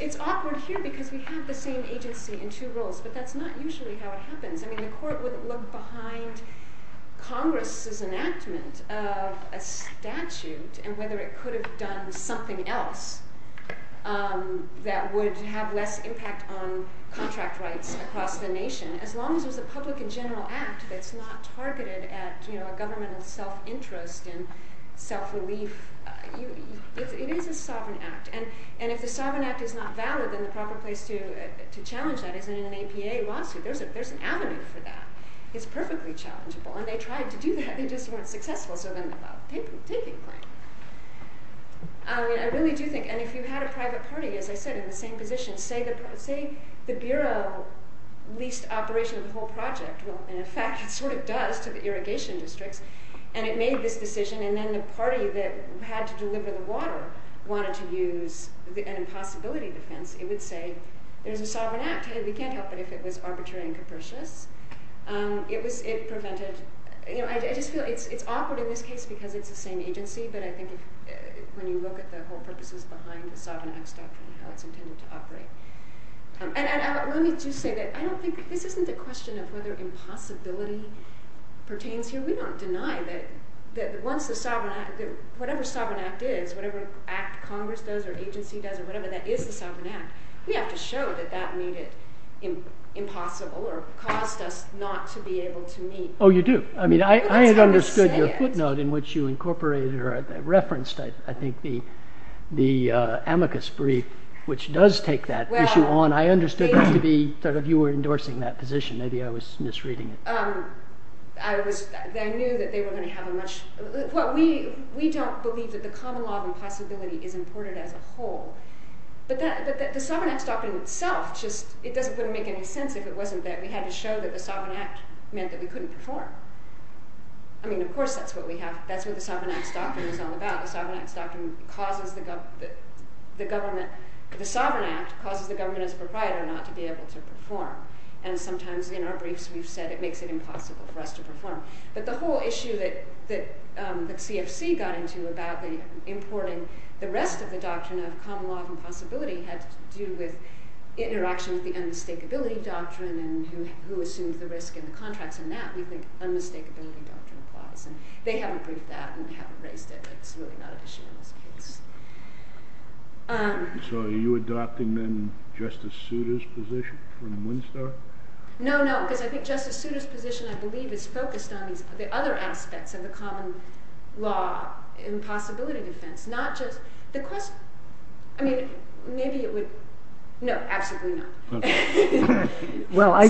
It's awkward, too, because we have the same agency in two roles, but that's not usually how it happens. A court wouldn't look behind Congress' enactment of a statute and whether it could have done something else that would have less impact on contract rights across the nation. As long as it's a public and general act that's not targeted at a government of self-interest and self-relief, it is a sovereign act. If the sovereign act is not valid, then the proper place to challenge that is in an APA lawsuit. There's an avenue for that. It's perfectly challengeable, and they tried to do that and just weren't successful, so then they thought, take it from there. I really do think, and if you had a private party, as I said, in the same position, say the Bureau leased operation of the whole project, and in fact, it sort of does to the irrigation district, and it made this decision, and then the party that had to deliver the water wanted to use an impossibility defense, it would say, there's a sovereign act, but we can't help it if it was arbitrary and capricious. It prevented, I just feel, it's awkward in this case because it's the same agency, but I think when you look at the whole purpose behind the sovereign act and how it continues to operate. I wanted to say that I don't think, this isn't a question of whether impossibility pertains to, we weren't denied that once the sovereign act, whatever sovereign act is, whatever act Congress does or agency does or whatever that is the sovereign act, we have to show that that made it impossible or caused us not to be able to meet. Oh, you do. I mean, I had understood your footnote in which you incorporated or referenced, I think, the amicus brief, which does take that issue on. I understood that you were endorsing that position. Maybe I was misreading it. I knew that they were going to have a much, well, we don't believe that the common law of impossibility is important as a whole, but the sovereign act doctrine itself, it doesn't really make any sense if it wasn't that we had to show that the sovereign act meant that we couldn't perform. I mean, of course, that's what we have, that's what the sovereign act doctrine is all about. The sovereign act doctrine causes the government, the sovereign act causes the government to provide or not to be able to perform and sometimes in our briefs we've said it makes it impossible for us to perform. But the whole issue that the CFC got into about importing the rest of the doctrine of common law of impossibility has to do with interactions with the unmistakability doctrine and who assumes the risk in contract and that. We think unmistakability doesn't apply. They haven't reached that and haven't raised it. It's really not an issue. So are you adopting then Justice Souter's position in Munster? No, no, because I think Justice Souter's position I believe is focused on the other aspects of the common law impossibility defense, not just the question. I mean, I think maybe it would, no, absolutely not. Well, I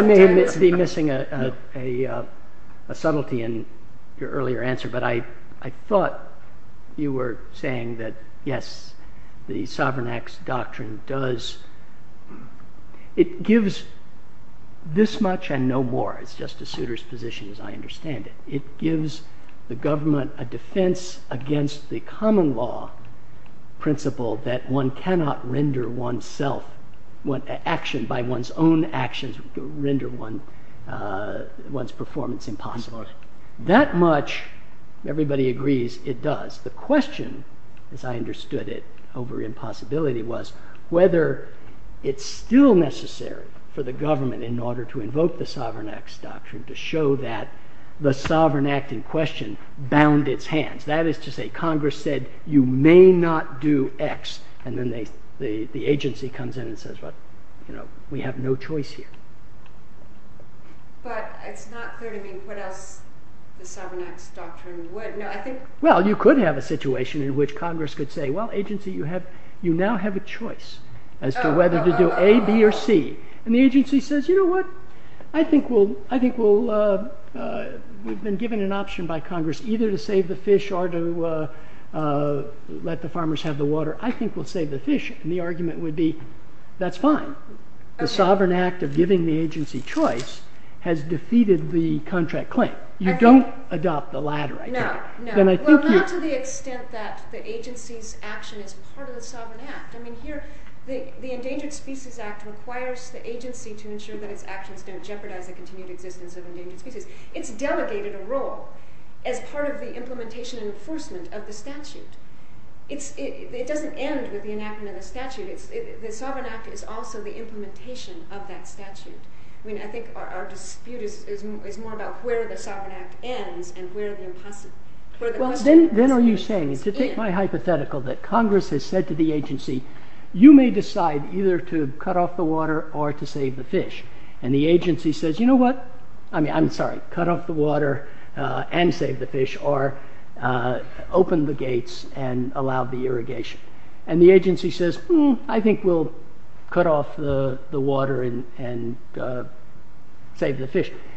may be missing a subtlety in your earlier answer, but I thought you were saying that yes, the Sovereign Acts Doctrine does, it gives this much and no more. It's Justice Souter's position as I understand it. It gives the government a defense against the human law principle that one cannot render oneself action by one's own actions render one's performance impossible. That much everybody agrees it does. The question as I understood it over impossibility was whether it's still necessary for the government in order to invoke the Sovereign Acts Doctrine to say you may not do X. And then the agency comes in and says we have no choice here. Well, you could have a situation in which Congress could say agency, you now have a choice as to whether to do A, B, or C. And the agency says, you know what, I think we've been given an option by Congress either to save the fish or let the farmers have the water. I think we'll save the fish. And the argument would be that's fine. The Sovereign Act of giving the agency choice has defeated the contract claim. So, you don't adopt the latter. Well, not to the extent that the agency's action is part of the Sovereign Act. I mean, here, the Endangered Species Act requires the agency to ensure that its action is going to jeopardize the continued existence of Endangered Species. It's the the Sovereign Act. And where is the impossible? Then are you saying that Congress has said to the agency, you may decide to cut off the water or save the fish. And the agency says, I'm sorry, cut off the water and save the fish.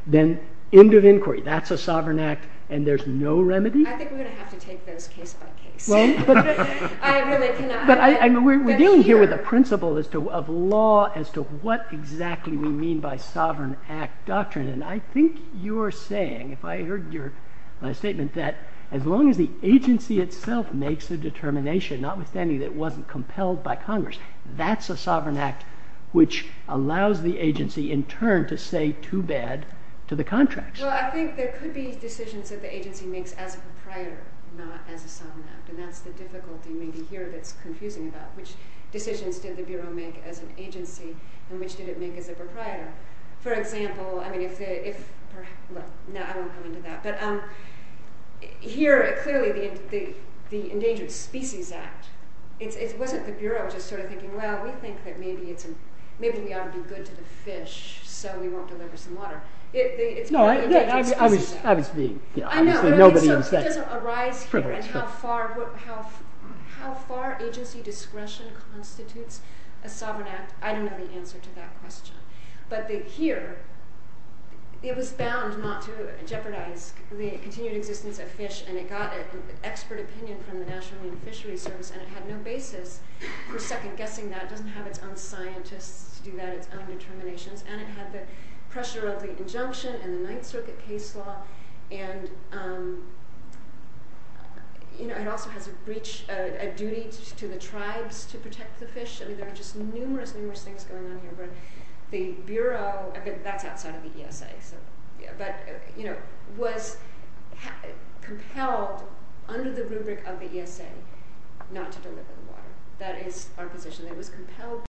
Then end of inquiry. That's a Sovereign Act and there's no remedy? We're dealing here with a principle of law as to what exactly we mean by Sovereign Act doctrine. I think you're saying, as long as the agency itself makes the determination, notwithstanding it wasn't compelled by Congress, that's a Sovereign Act which allows the agency to stay too bad to the contract. I think there could be decisions that the agency makes as a proprietor, not as a sovereign act. That's the difficulty here. Here, clearly, the Endangered Species Act, it wasn't the Bureau just sort of thinking, well, we think maybe we ought to do good to the fish so we won't deliver some water. No, obviously, nobody intended it. It doesn't arrive at how far agency discretion constitutes a sovereign act. I don't have an answer to that question. But here, it was bound not to jeopardize the continued existence of fish and it got expert opinion from the fisheries and had no basis for second guessing that, didn't have its own scientific determination and it had the pressure of the injunction and the Ninth Circuit case law and it also had a duty to the tribes to protect the fish. I mean, there are just numerous, numerous things going on here. The Bureau, that's outside of the ESA, was compelled under the rubric of the ESA, not to deliver the water. That is our position. It was compelled